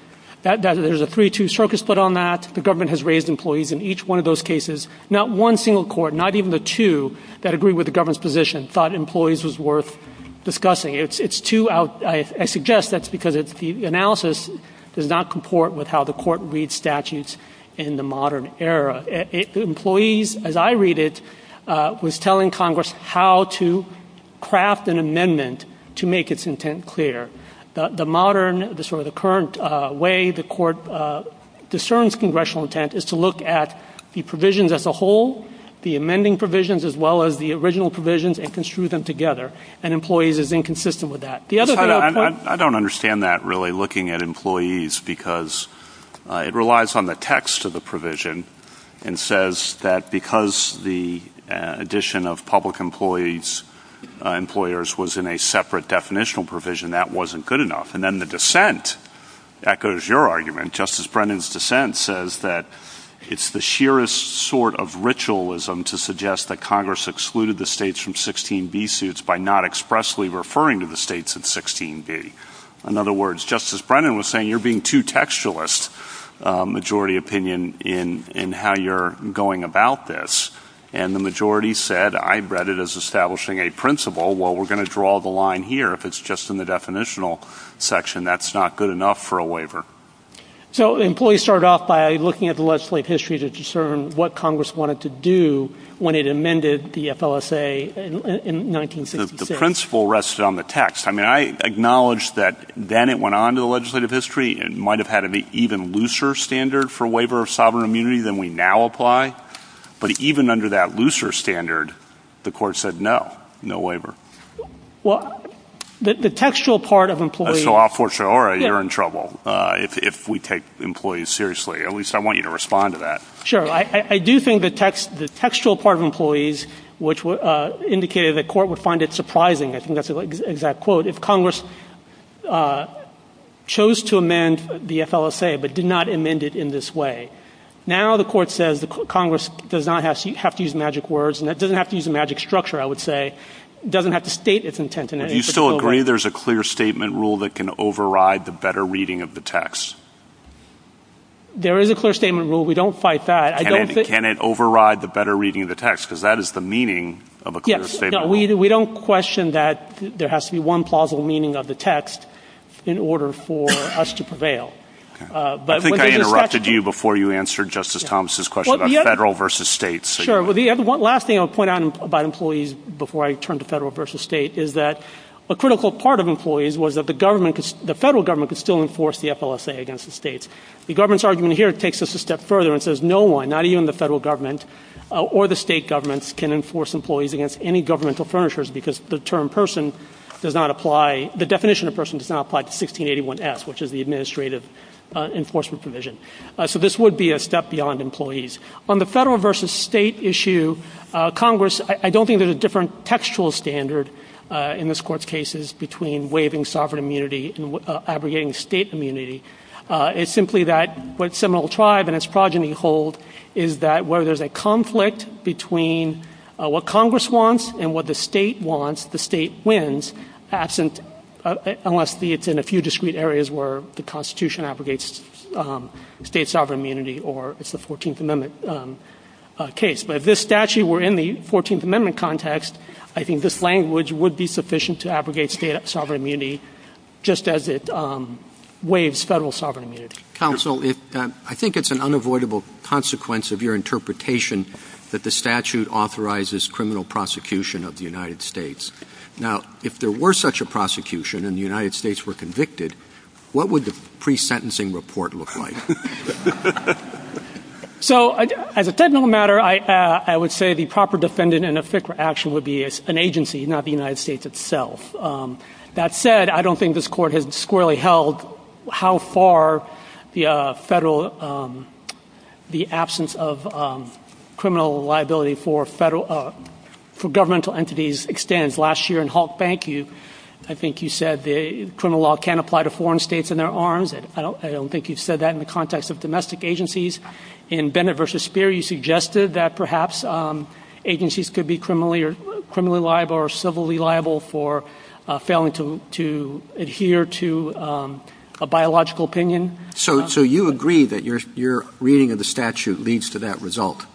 There's a free-to-use circus foot on that. The government has raised employees in each one of those cases. Not one single court, not even the two that agree with the government's position thought employees was worth discussing. It's too out... I suggest that's because the analysis does not comport with how the Court reads statutes in the modern era. Employees, as I read it, was telling Congress how to craft an amendment to make its intent clear. The modern, the sort of current way the Court discerns congressional intent is to look at the provisions as a whole, the amending provisions, as well as the original provisions, and construe them together. And employees is inconsistent with that. I don't understand that, really, looking at employees because it relies on the text of the provision and says that because the addition of public employees, employers was in a separate definitional provision, that wasn't good enough. And then the dissent echoes your argument. Justice Brennan's dissent says that it's the sheerest sort of ritualism to suggest that Congress excluded the states from 16b suits by not expressly referring to the states in 16b. In other words, Justice Brennan was saying you're being too textualist, majority opinion, in how you're going about this. And the majority said, I read it as establishing a principle. Well, we're going to draw the line here if it's just in the definitional section. And that's not good enough for a waiver. So employees started off by looking at the legislative history to discern what Congress wanted to do when it amended the FLSA in 1966. The principle rested on the text. I mean, I acknowledge that then it went on to the legislative history and might have had an even looser standard for waiver of sovereign immunity than we now apply. But even under that looser standard, the court said, no, no waiver. Well, the textual part of employees... All right, you're in trouble if we take employees seriously. At least I want you to respond to that. Sure. I do think the textual part of employees, which indicated the court would find it surprising. I think that's an exact quote. If Congress chose to amend the FLSA but did not amend it in this way, now the court says Congress does not have to use magic words and it doesn't have to use a magic structure, I would say, doesn't have to state its intent. Do you still agree there's a clear statement rule that can override the better reading of the text? There is a clear statement rule. We don't fight that. Can it override the better reading of the text? Because that is the meaning of a clear statement rule. We don't question that there has to be one plausible meaning of the text in order for us to prevail. I think I interrupted you before you answered Justice Thomas' question about federal versus state. Sure. The last thing I'll point out about employees before I turn to federal versus state is that a critical part of employees was that the federal government could still enforce the FLSA against the states. The government's argument here takes us a step further and says no one, not even the federal government or the state governments, can enforce employees against any governmental furnitures because the definition of person does not apply to 1681S, which is the administrative enforcement provision. So this would be a step beyond employees. On the federal versus state issue, Congress, I don't think there's a different textual standard in this Court's cases between waiving sovereign immunity and abrogating state immunity. It's simply that what Seminole Tribe and its progeny hold is that where there's a conflict between what Congress wants and what the state wants, the state wins, unless it's in a few discrete areas where the Constitution abrogates state sovereign immunity or it's the 14th Amendment case. But if this statute were in the 14th Amendment context, I think this language would be sufficient to abrogate state sovereign immunity just as it waives federal sovereign immunity. Counsel, I think it's an unavoidable consequence of your interpretation that the statute authorizes criminal prosecution of the United States. Now, if there were such a prosecution and the United States were convicted, what would the pre-sentencing report look like? So as a technical matter, I would say the proper defendant in a FCRA action would be an agency, not the United States itself. That said, I don't think this court has squarely held how far the federal... the absence of criminal liability for federal... for governmental entities extends. Last year in Hawke Bank, I think you said criminal law can't apply to foreign states and their arms. I don't think you said that in the context of domestic agencies. In Bennett v. Speer, you suggested that perhaps agencies could be criminally liable or civilly liable for failing to adhere to a biological opinion. So you agree that your reading of the statute leads to that result,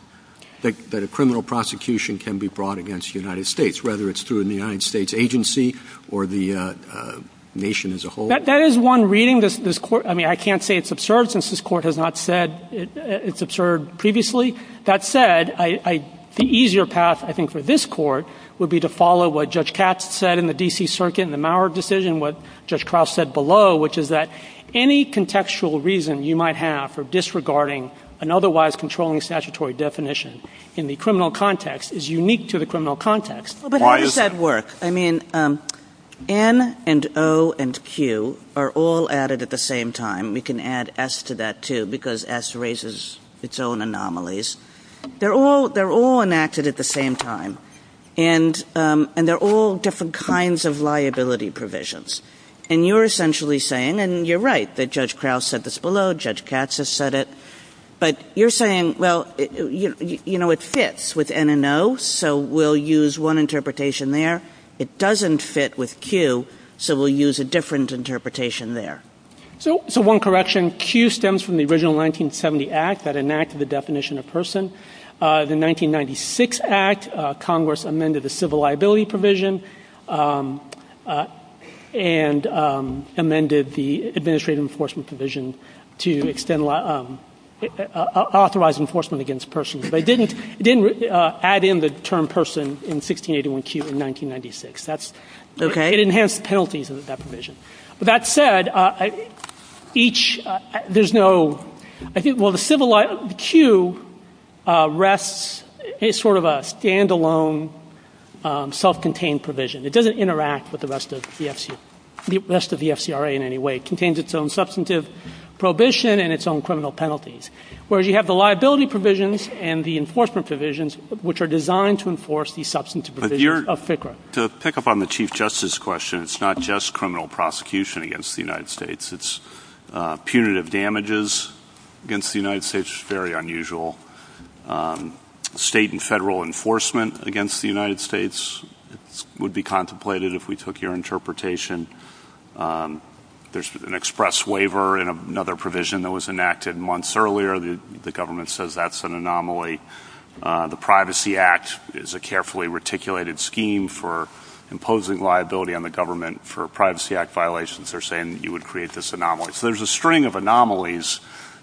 that a criminal prosecution can be brought against the United States, whether it's through the United States agency or the nation as a whole? That is one reading. I mean, I can't say it's absurd since this court has not said it's absurd previously. That said, the easier path, I think, for this court would be to follow what Judge Katz said in the D.C. Circuit in the Maurer decision and what Judge Cross said below, which is that any contextual reason you might have for disregarding an otherwise controlling statutory definition in the criminal context is unique to the criminal context. But how does that work? I mean, N and O and Q are all added at the same time. You can add S to that, too, because S raises its own anomalies. They're all enacted at the same time and they're all different kinds of liability provisions. And you're essentially saying, and you're right that Judge Cross said this below, Judge Katz has said it, but you're saying, well, you know, it fits with N and O, so we'll use one interpretation there. It doesn't fit with Q, so we'll use a different interpretation there. So one correction, Q stems from the original 1970 Act that enacted the definition of person. The 1996 Act, Congress amended the civil liability provision and amended the administrative enforcement provision to authorize enforcement against persons. But it didn't add in the term person in 1681Q in 1996. That's okay. It enhanced the penalties in that provision. With that said, each, there's no, I think, well, the civil, Q rests, it's sort of a stand-alone self-contained provision. It doesn't interact with the rest of the FCRA in any way. It contains its own substantive prohibition and its own criminal penalties. Whereas you have the liability provisions and the enforcement provisions which are designed to enforce the substantive provisions of FCRA. To pick up on the Chief Justice question, it's not just criminal prosecution against the United States. It's punitive damages against the United States. It's very unusual. State and federal enforcement against the United States would be contemplated if we took your interpretation. There's an express waiver and another provision that was enacted months earlier. The government says that's an anomaly. The Privacy Act is a carefully reticulated scheme for imposing liability on the government for Privacy Act violations. They're saying you would create this anomaly. There's a string of anomalies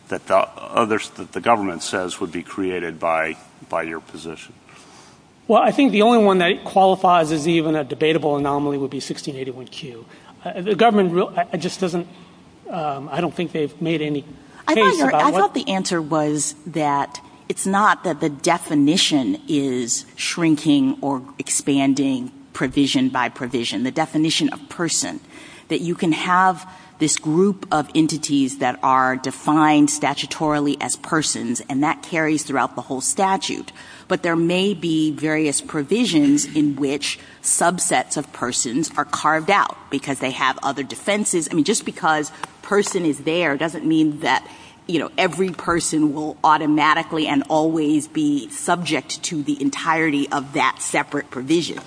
that the government says would be created by your position. Well, I think the only one that qualifies as even a debatable anomaly would be 1681Q. The government just doesn't... I don't think they've made any... I thought the answer was that it's not that the definition is shrinking or expanding provision by provision. The definition of person is that you can have this group of entities that are defined statutorily as persons and that carries throughout the whole statute. But there may be various provisions in which subsets of persons are carved out because they have other defenses. Just because a person is there doesn't mean that every person will automatically and always be subject to the entirety of that separate provision.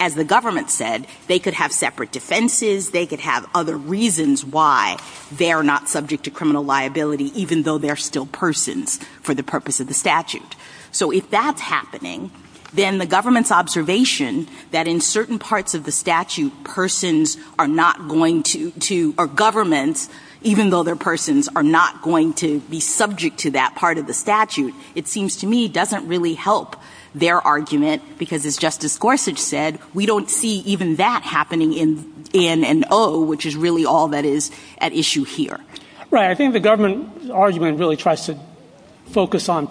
As the government said, they could have separate defenses. They could have other reasons why they're not subject to criminal liability even though they're still persons for the purpose of the statute. So if that's happening, then the government's observation that in certain parts of the statute persons are not going to... or governments, even though they're persons are not going to be subject to that part of the statute, it seems to me doesn't really help their argument because as Justice Gorsuch said, we don't see even that happening in N&O which is really all that is at issue here. Right, I think the government argument really tries to focus on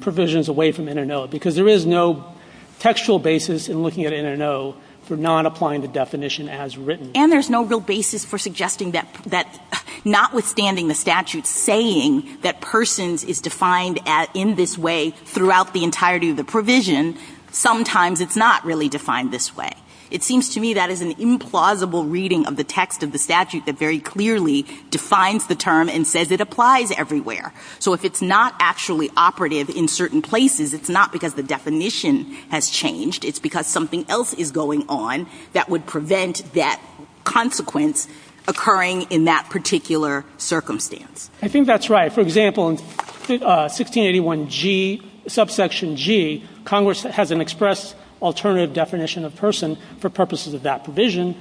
provisions away from N&O because there is no textual basis in looking at N&O for not applying the definition as written. And there's no real basis for suggesting that notwithstanding the statute saying that persons is defined in this way throughout the entirety of the provision, sometimes it's not really defined this way. It seems to me that is an implausible reading of the text of the statute that very clearly defines the term and says it applies everywhere. So if it's not actually operative in certain places, it's not because the definition has changed, it's because something else is going on that would prevent that consequence occurring in that particular circumstance. I think that's right. For example, in 1681G, subsection G, Congress has an express alternative definition of person for purposes of that provision.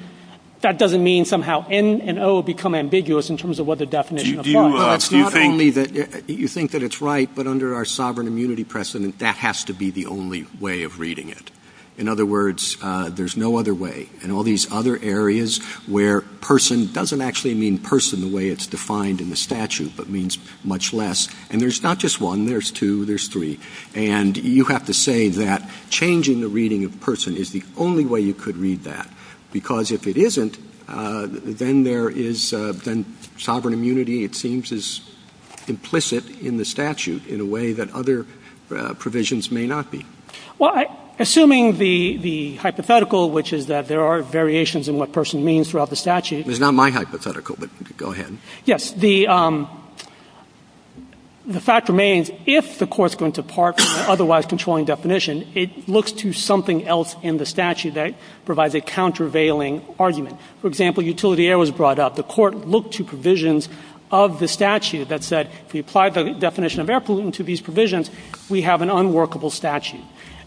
That doesn't mean somehow N&O become ambiguous in terms of what the definition of that is. You think that it's right, but under our sovereign immunity precedent, that has to be the only way of reading it. In other words, there's no other way. In all these other areas where person doesn't actually mean person the way it's defined in the statute, but means much less. And there's not just one, there's two, there's three. And you have to say that changing the reading of person is the only way you could read that. Because if it isn't, then there is then sovereign immunity it seems is implicit in the statute in a way that other provisions may not be. Well, assuming the hypothetical, which is that there are variations in what person means throughout the statute. It's not my hypothetical, but go ahead. Yes, the fact remains if the court's going to part otherwise controlling definition, it looks to something else in the statute that provides a countervailing argument. For example, utility error was brought up. The court looked to provisions of the statute that said if you apply the definition of effluent to these provisions, we have an unworkable statute.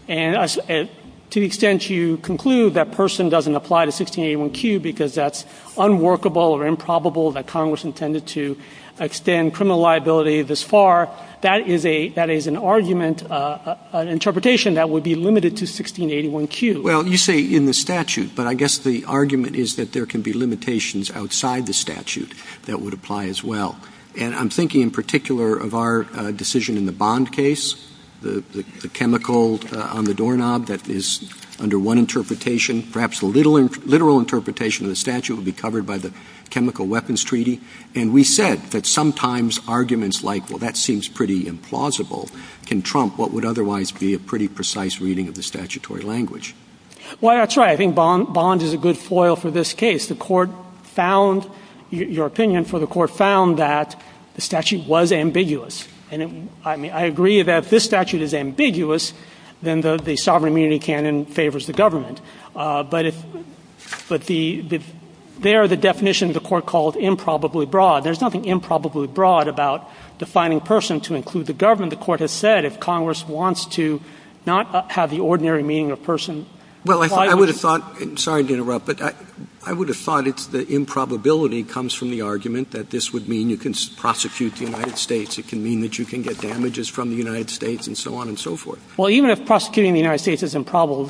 And to the extent you conclude that person doesn't apply to 1681Q because that's unworkable or improbable that Congress intended to extend criminal liability this far, that is an argument interpretation that would be limited to 1681Q. Well, you say in the statute, but I guess the argument is that there can be limitations outside the statute that would apply as well. And I'm thinking in particular of our decision in the Bond case, the chemical on the doorknob that is under one interpretation, perhaps a literal interpretation of the statute would be covered by the chemical weapons treaty. And we said that sometimes arguments like, well, that seems pretty implausible. Can Trump, what would otherwise be a pretty precise reading of the statutory language? Well, that's right. I think Bond is a good foil for this case. The Court found, your opinion for the Court, found that the statute was ambiguous. And I agree that if this statute is ambiguous, then the sovereign community can and favors the government. But there are the definitions the Court calls improbably broad. There's nothing improbably broad about defining person to include the government. The Court has said if Congress wants to not have the ordinary meaning of person... I would have thought the improbability comes from the argument that this would mean you can prosecute the United States. It can mean you can get damages from the United States and so on and so forth. Even if prosecuting the United States is improbable,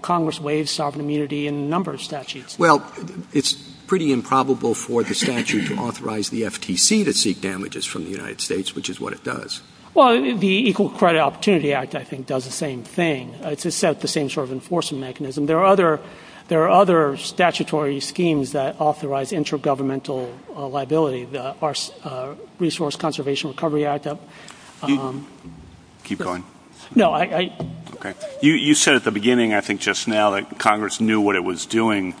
Congress waives sovereign immunity in a number of cases. There are other statutory schemes that authorize intergovernmental liability. The resource conservation recovery act. Keep going. You said at the beginning that Congress knew what it was doing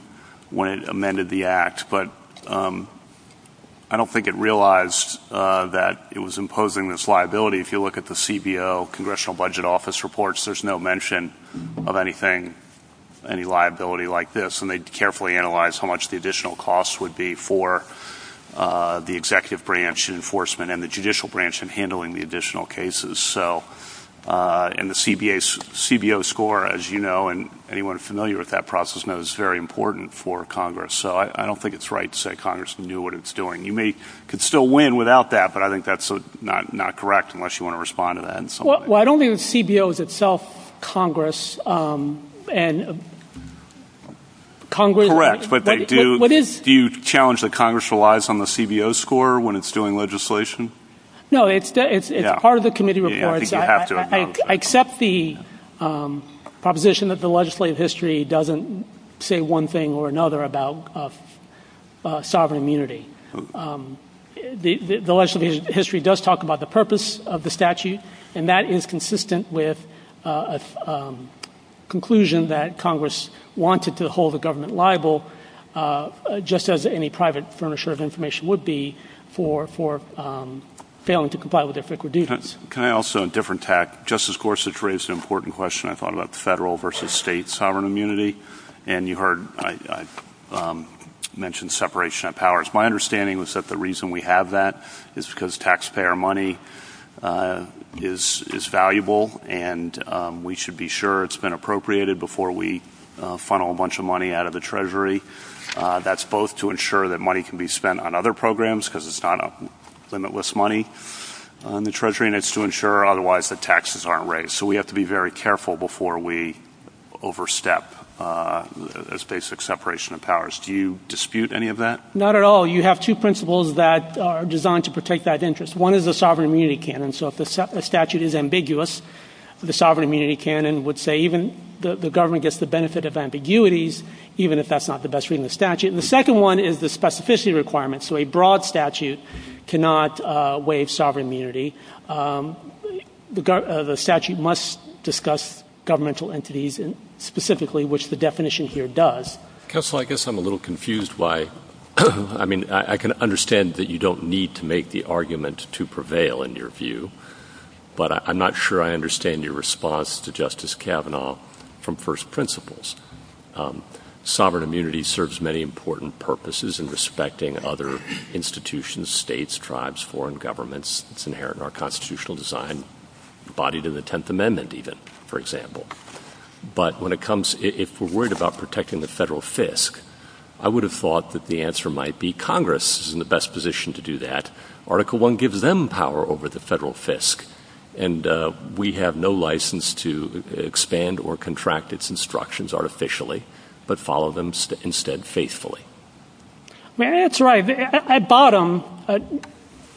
when it amended the act, but I don't think it realized that it was imposing this liability. If you look at the CBO scores, they carefully analyze how much the additional costs would be for the executive branch and enforcement and the judicial branch in handling the additional cases. The CBO score, as you know, is very important for Congress. I don't think it's right to say Congress knew what it was doing. You may win without that, but I think that's not correct. I don't think CBO is itself Congress. Correct. Do you challenge that Congress relies on the CBO score when it's doing legislation? No. As part of the committee reports, I accept the proposition that the legislative history doesn't say one thing or another about sovereign immunity. The legislative history does talk about the purpose of the statute, and that is consistent with a conclusion that Congress wanted to hold the government liable, just as any private furnisher of information would be for failing to comply with their duties. Justice Gorsuch raised an important question. You mentioned separation of powers. My understanding is that the reason we have that is because taxpayer money is valuable, and we should be sure it's been appropriated before we funnel a bunch of money out of the treasury. That's both to ensure that money can be spent on other programs because it's not a limitless money. The Treasury needs to ensure otherwise that taxes aren't raised. Do you dispute any of that? Not at all. You have two principles that are designed to protect that interest. One is the sovereign immunity canon. The government gets the benefit of ambiguities even if that's not the best policy requirement. So a broad statute cannot waive sovereign immunity. The statute must discuss governmental entities specifically, which the definition here does. Counselor, I guess I'm a little confused. I can understand that you don't need to make the argument to protect the federal fisc. I would have thought that the answer might be Congress is in the best position to do that. Article 1 gives them power over the federal fisc. And we have no license to expand or contract its instructions artificially, but follow them instead faithfully. That's right. At bottom,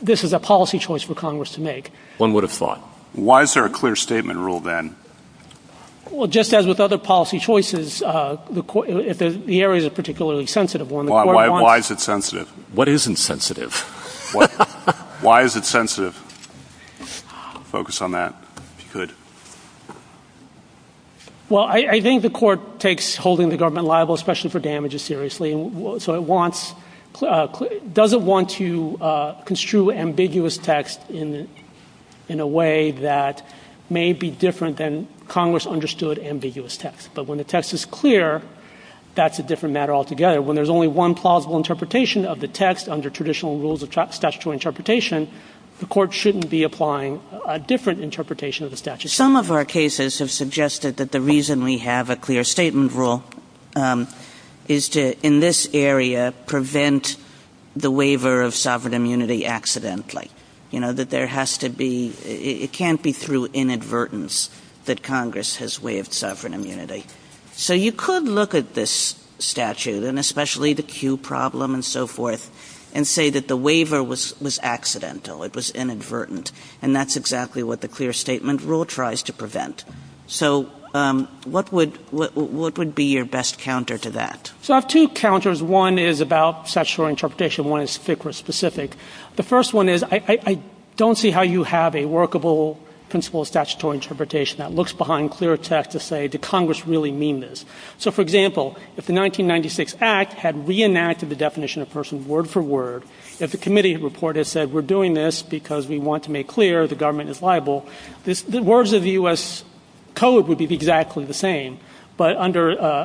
this is a policy choice for Congress to make. One would have thought. Why is there a clear statement rule then? Just as with other policy choices, the area is particularly sensitive. Why is it sensitive? What is insensitive? Why is it sensitive? Focus on that. Good. Well, I think the court takes holding the government liable especially for damages seriously. It doesn't want to construe ambiguous text in a way that may be different than Congress understood ambiguous text. When the text is clear, that's a different matter altogether. When there's only one plausible interpretation, the court shouldn't be applying a different interpretation. Some of our cases have suggested that the reason we have a clear statement rule is to in this area prevent the waiver of sovereign immunity accidentally. It can't be through inadvertence that Congress has waived sovereign immunity. So you could look at this statute and especially the Q problem and so forth and say that the waiver was accidental. It was inadvertent. And that's exactly what the clear statement rule tries to prevent. So what would be your best counter to that? I have two counters. One is about interpretation. The first one is I don't see how you have a interpretation that looks behind clear text to say does Congress really mean this. If the 1996 act had reenacted the definition of person word for word, if the committee had word for person, if you had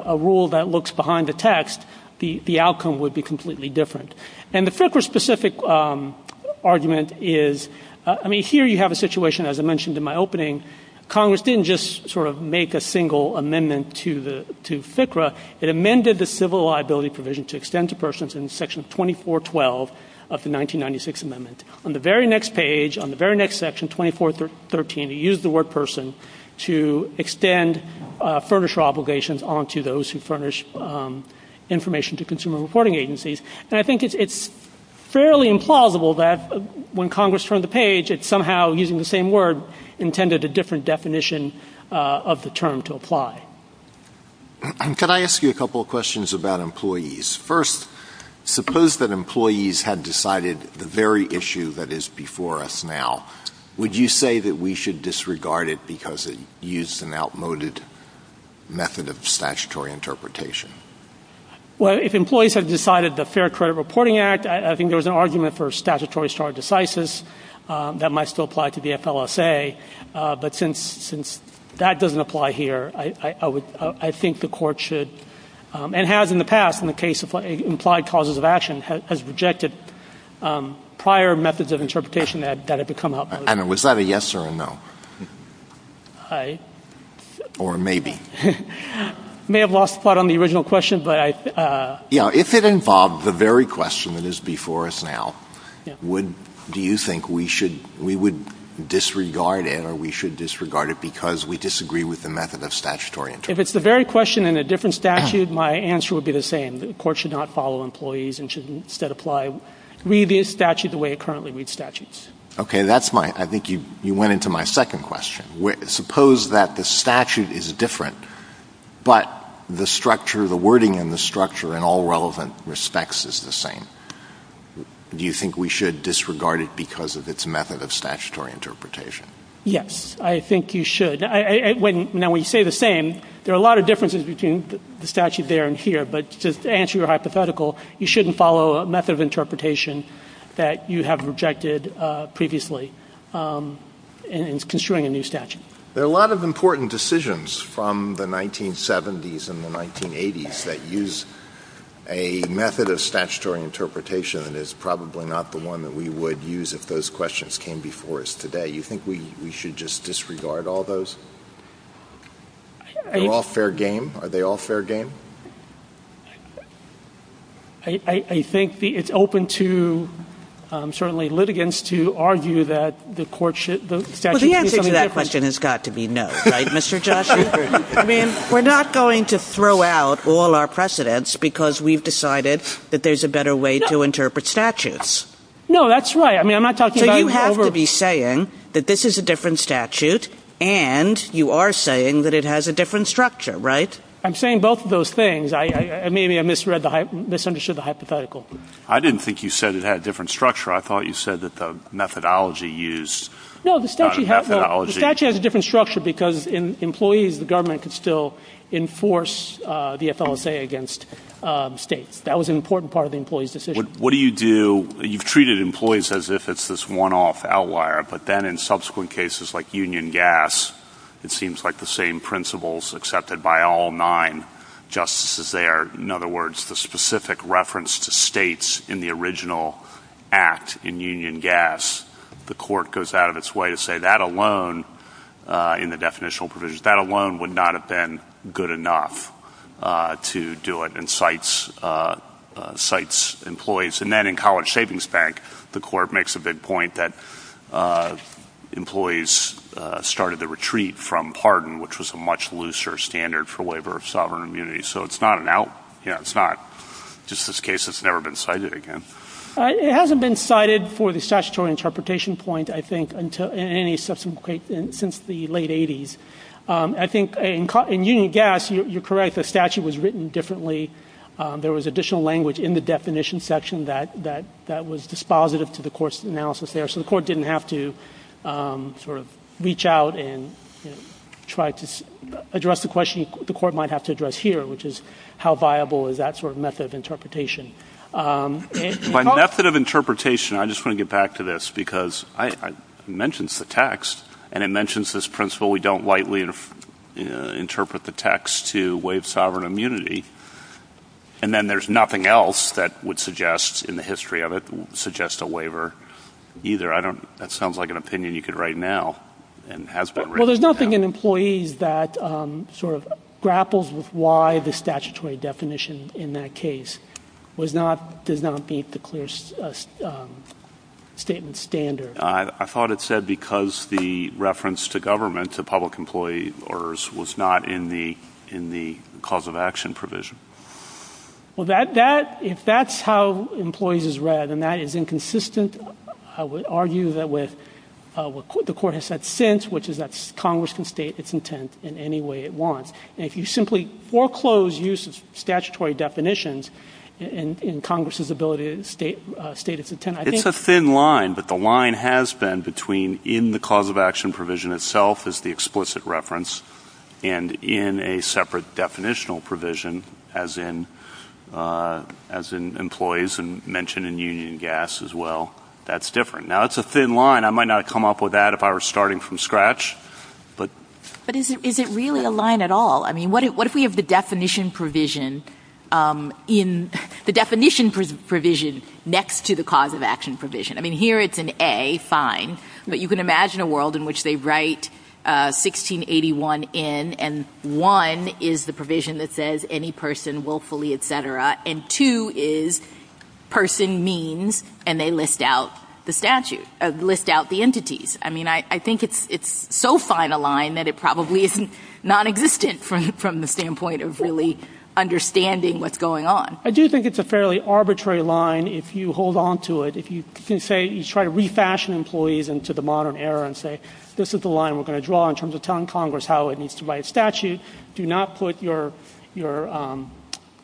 a rule that looks behind the text, the outcome would be different. And the FICRA specific argument is here you have a situation as I mentioned in my opening. Congress didn't just make a single amendment FICRA. It amended the civil liability provision. On the next page you use the word person to extend obligations on to those who furnish information to consumer reporting agencies. I think it's implausible that when Congress does that, it doesn't apply. First, suppose that employees had decided the very issue that is before us now. Would you say that we should disregard it because it used an outmoded method of statutory interpretation? If employees decided the fair answer, I think the court should and has in the past in the case of implied causes of action has rejected prior methods of interpretation. Was that a yes or no? Or maybe? I may have lost spot on the original question. If it involved the very question that is before us now, do you think we should disregard it because we disagree with the method of statutory interpretation? If it's the very question in a different statute, my answer would be the same. The court should not follow a method of interpretation that you have rejected previously in construing a new statute. the 1970s and the 1980s that use a method of statutory interpretation that is not the same as a method of statutory interpretation that is probably not the one that we would use if those questions came before us today. Do you think we should disregard all of those? Are they all fair game? I think it's open to litigants to argue that the court should not follow a method of statutory that is the one that we would use if those questions came before us today. You have to be saying that this is a different statute and you are saying it has a different structure. I didn't think you said it had a different structure. I thought you said the methodology used. The statute has a different structure. The government can still enforce the FLSA against states. That was an important part of the decision. You have treated employees as if it's a one-off outlier. It seems like the same principles accepted by all nine justices. In other words, the specific reference to states in the original act, the court goes out of its way to say that alone would not have been good enough to do it and cites employees. In college savings bank, the court makes a big point that employees should be treated as an outlier. It's not an outlier. It's never been cited again. It hasn't been cited for the statutory interpretation point since the late 80s. In union gas, the statute was written differently. There was additional language in the definition section that was dispositive. The court didn't have to reach out and try to address the question the court might have to address here. How viable is that method of interpretation? I want to get back to this because it mentions the text and mentions this principle we don't interpret the text to waive sovereign immunity. And then there's nothing else that would suggest in the history of it suggest a waiver either. That sounds like an opinion you could write now. There's nothing in employees that grapples with why the statutory definition in that case does not beat the clear statement standard. I thought it said that because the reference to government to public employee orders was not in the cause of action provision. If that's how employees is read and that is inconsistent, I would argue the court has said since which is Congress can state its intent in any way it wants. If you simply foreclose statutory definitions in Congress's ability to state its intent. It's a thin line, but the line has been between in the cause of action provision itself is the explicit reference and in a separate definition provision as in employees mentioned in union and gas as well. That's different. It's a thin line. I might not come up with that if I was starting from scratch. But is it really a line at all? What if we have the definition provision next to the cause of action provision? Here it's an A, fine, but you can imagine a world in which they write 1681 in and one is the provision that says any person willfully etc. And two is person means and they list out the entities. I think it's so fine a line that it probably isn't nonexistent from the standpoint of really understanding what's going on. I do think it's a fairly arbitrary line if you hold on to it. If you try to refashion employees into the modern era and say this is the line we're going to draw in terms of telling Congress how it needs to write a statute, do not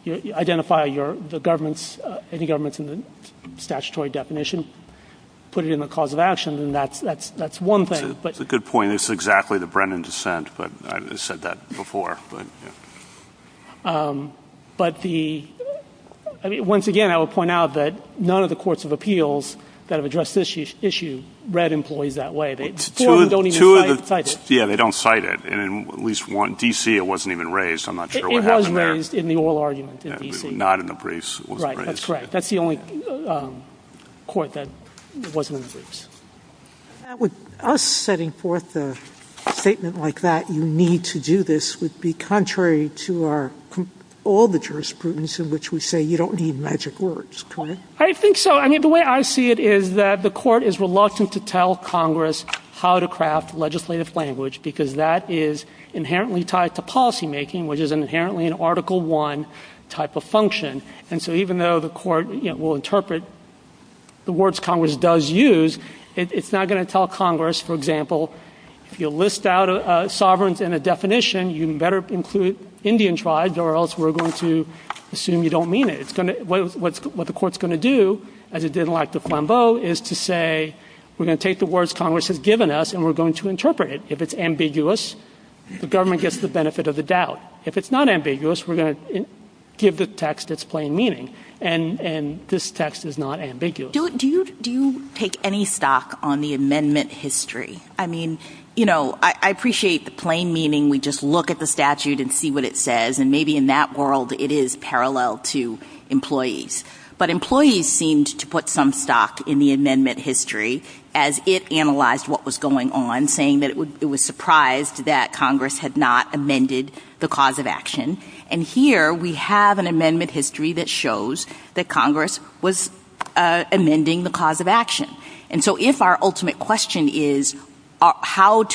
identify any government in the statutory definition. Put it in the cause of action. That's one thing. It's a good point. It's exactly the Brennan dissent. I said that before. But once again I would point out that none of the courts of appeals that have addressed this issue read employees that way. They don't cite it. In D.C. it wasn't even raised. It was raised in the oral argument. That's the only court that wasn't raised. With us setting forth a statement like that, you need to do this would be contrary to our obituary in which we say you don't need magic words. The way I see it is the court is reluctant to tell Congress how to craft legislative language because that is inherently tied to policy making which is an article one type of function. Even though the court will interpret the words Congress does use, it is not going to tell Congress if you list out a definition you better include Indian tribes. What the court is going to do is say we are going to give the text its plain meaning. This text is not ambiguous. Do you take any stock on the amendment history? I appreciate the plain meaning. We just look at the statute and see what it says. Maybe in that world it is parallel to employees. Employees seemed to have not amended the cause of action. Here we have an amendment history that shows that Congress was amending the cause of action. If our ultimate question is how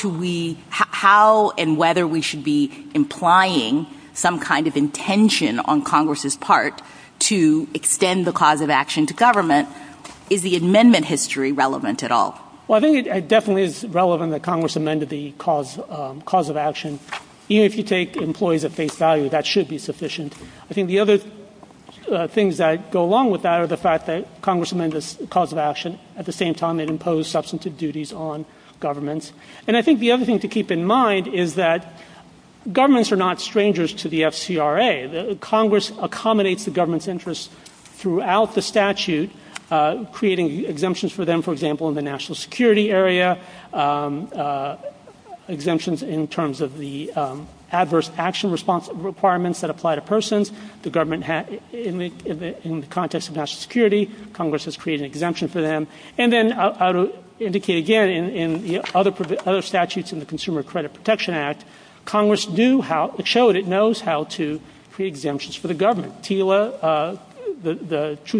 and whether we should be implying some kind of intention on Congress's part to extend the cause of action to government, is the amendment history relevant at all? I think it is relevant that Congress amended the cause of action. The other things that go along with that are the fact that Congress amended the cause of action and imposed substantive duties on government. The other thing to keep in mind is that the amendment history shows that it knows how to create exemptions for government. The Truth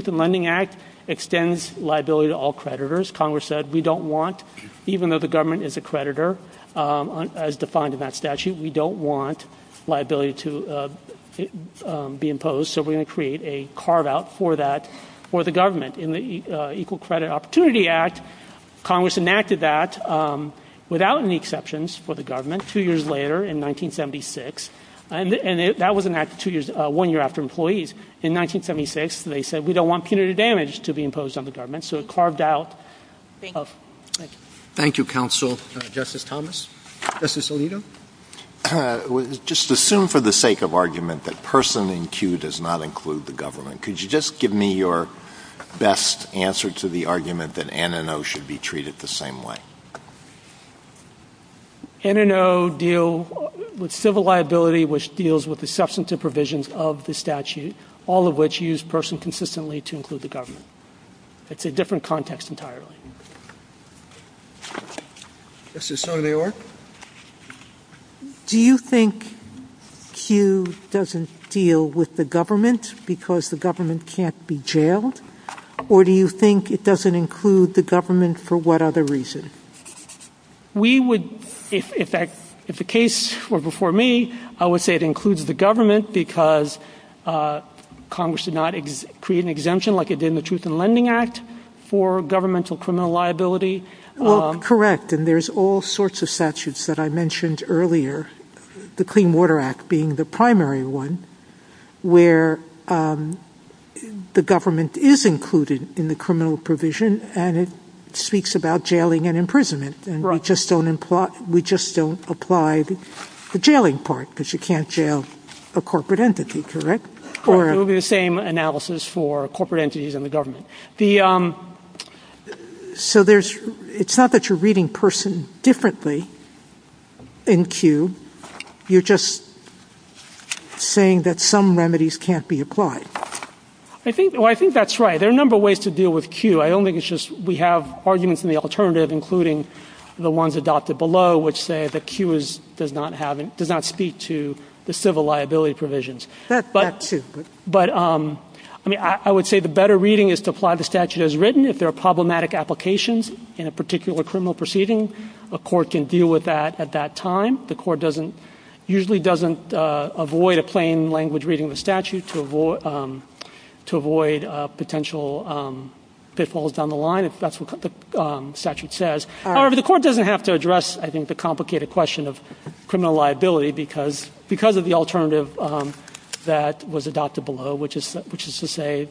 in Lending Act extends liability to all creditors. Even though the government is a creditor, we don't want liability to be imposed. In the equal equality act, that was enacted one year after employees. In 1976, they said we don't want punitive damage. Thank you, counsel. Assume for the sake of argument that person does not include the government. Could you give me your best answer to the argument that an and O should be treated the same way? An and O deal with civil liability which deals with the substantive provisions of the statute, all of which use person consistently to include the government. It's a different context entirely. Do you think Q doesn't deal with the government because the government can't be jailed, or do you think it doesn't include the government for what other reason? If the case were before me, I would say it includes the government because Congress did not create an exemption like it did in the truth and lending act. There are all sorts of things that I mentioned earlier, the clean water act being the primary one, where the government is included in the criminal provision, and it speaks about jailing and imprisonment, and we just don't apply the jailing part because you can't jail a corporate entity, correct? It would be the same analysis for corporate entities and the government. It's not that you're reading person differently in Q, you're just saying that some remedies can't be applied. I think that's right. There are a number of ways to deal with Q. We have arguments in the alternative including the ones that the statute does not speak to the civil liability provisions. I would say the better reading is to apply the statute as written. The court usually doesn't avoid a plain language reading the statute to avoid potential pitfalls down the line. The court doesn't have to address the complicated question of criminal liability because of the alternative that was adopted below which is to say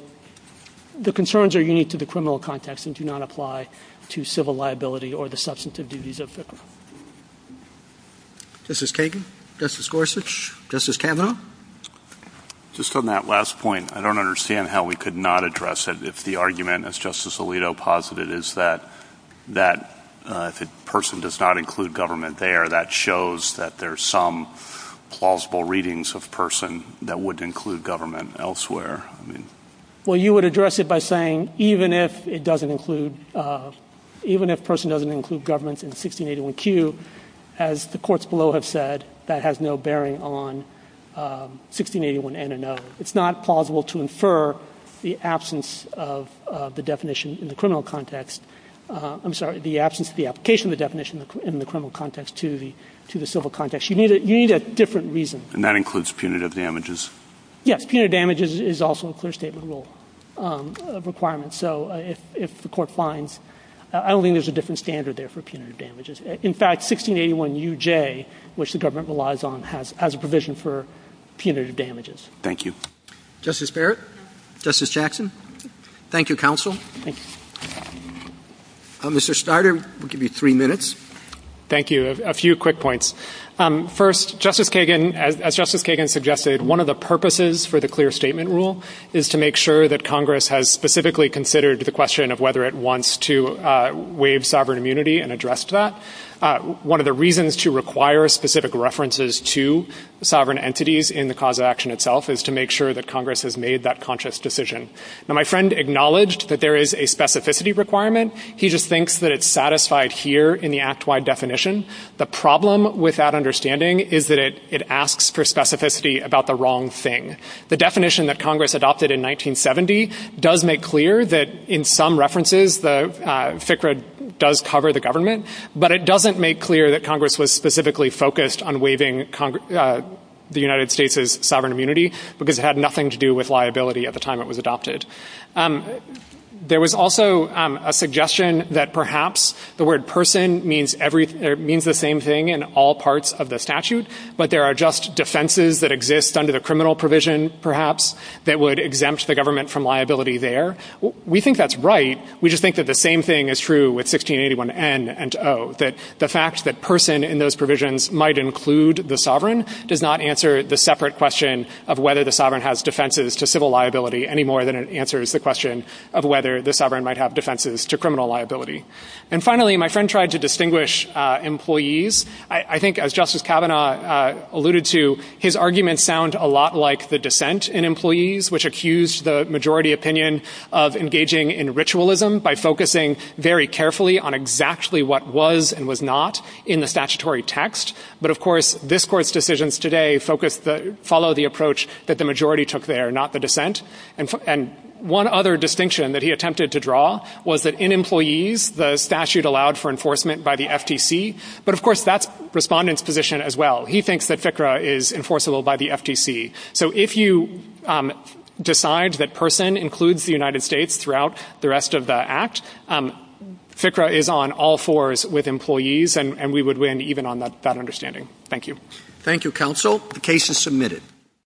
the concerns are unique to the criminal context and do not apply to civil liability or the substantive duties. Justice Kagan. Justice Gorsuch. Justice Kavanaugh. Just on that last point, I don't understand how we could not address it if the argument is that if a person does not include government there, that shows that there are some plausible readings of person that would include government elsewhere. You would address it by saying even if it doesn't include government, it's not plausible to infer the absence of the definition in the criminal context to the civil context. You need a different reason. That includes punitive damages. Punitive damages is also a requirement. I don't think there's a different standard for punitive damages. In fact, 1681 U.J. has a provision for punitive damages. Thank you. Justice Barrett? Justice Jackson? Thank you, counsel. Mr. Snyder, we'll give you three minutes. Thank you. A few quick points. One of the purposes for the clear statement rule is to make sure that Congress has specifically considered the question of whether it wants to address that. One of the reasons to require specific references to sovereign entities is to make sure that Congress has made that conscious decision. My friend acknowledged that there's a specificity requirement. The problem with that understanding is that it asks for specificity about the government. The definition that Congress adopted in 1970 does make clear that in some references, it does cover the government, but it doesn't make clear that Congress was specifically focused on waiving the sovereign immunity. There was also a suggestion that perhaps the word person means the same thing in all parts of the statute, but there are just defenses that exist under the criminal provision that would exempt the government from liability there. We think that's right. We think the same thing is true with 1681 N and O. The fact that person might include the sovereign does not answer the separate question of whether the sovereign has defenses to civil liability. Finally, my friend tried to distinguish employees. I think as Justice Kavanaugh alluded to, his arguments sound a lot like the dissent in employees, which accused the majority opinion of engaging in ritualism by focusing on exactly what was and was not in the statutory text. Of course, this court's decisions today follow the approach the majority took there, not the dissent. One other distinction he attempted to draw was that in employees, the statute allowed for enforcement by the FTC. He thinks FICRA is enforceable by the FTC. If you decide that the by the FTC, you can go to the United States throughout the rest of the act. FICRA is on all fours with employees, and we would win even on that understanding. Thank you. Thank you, counsel. The case is submitted.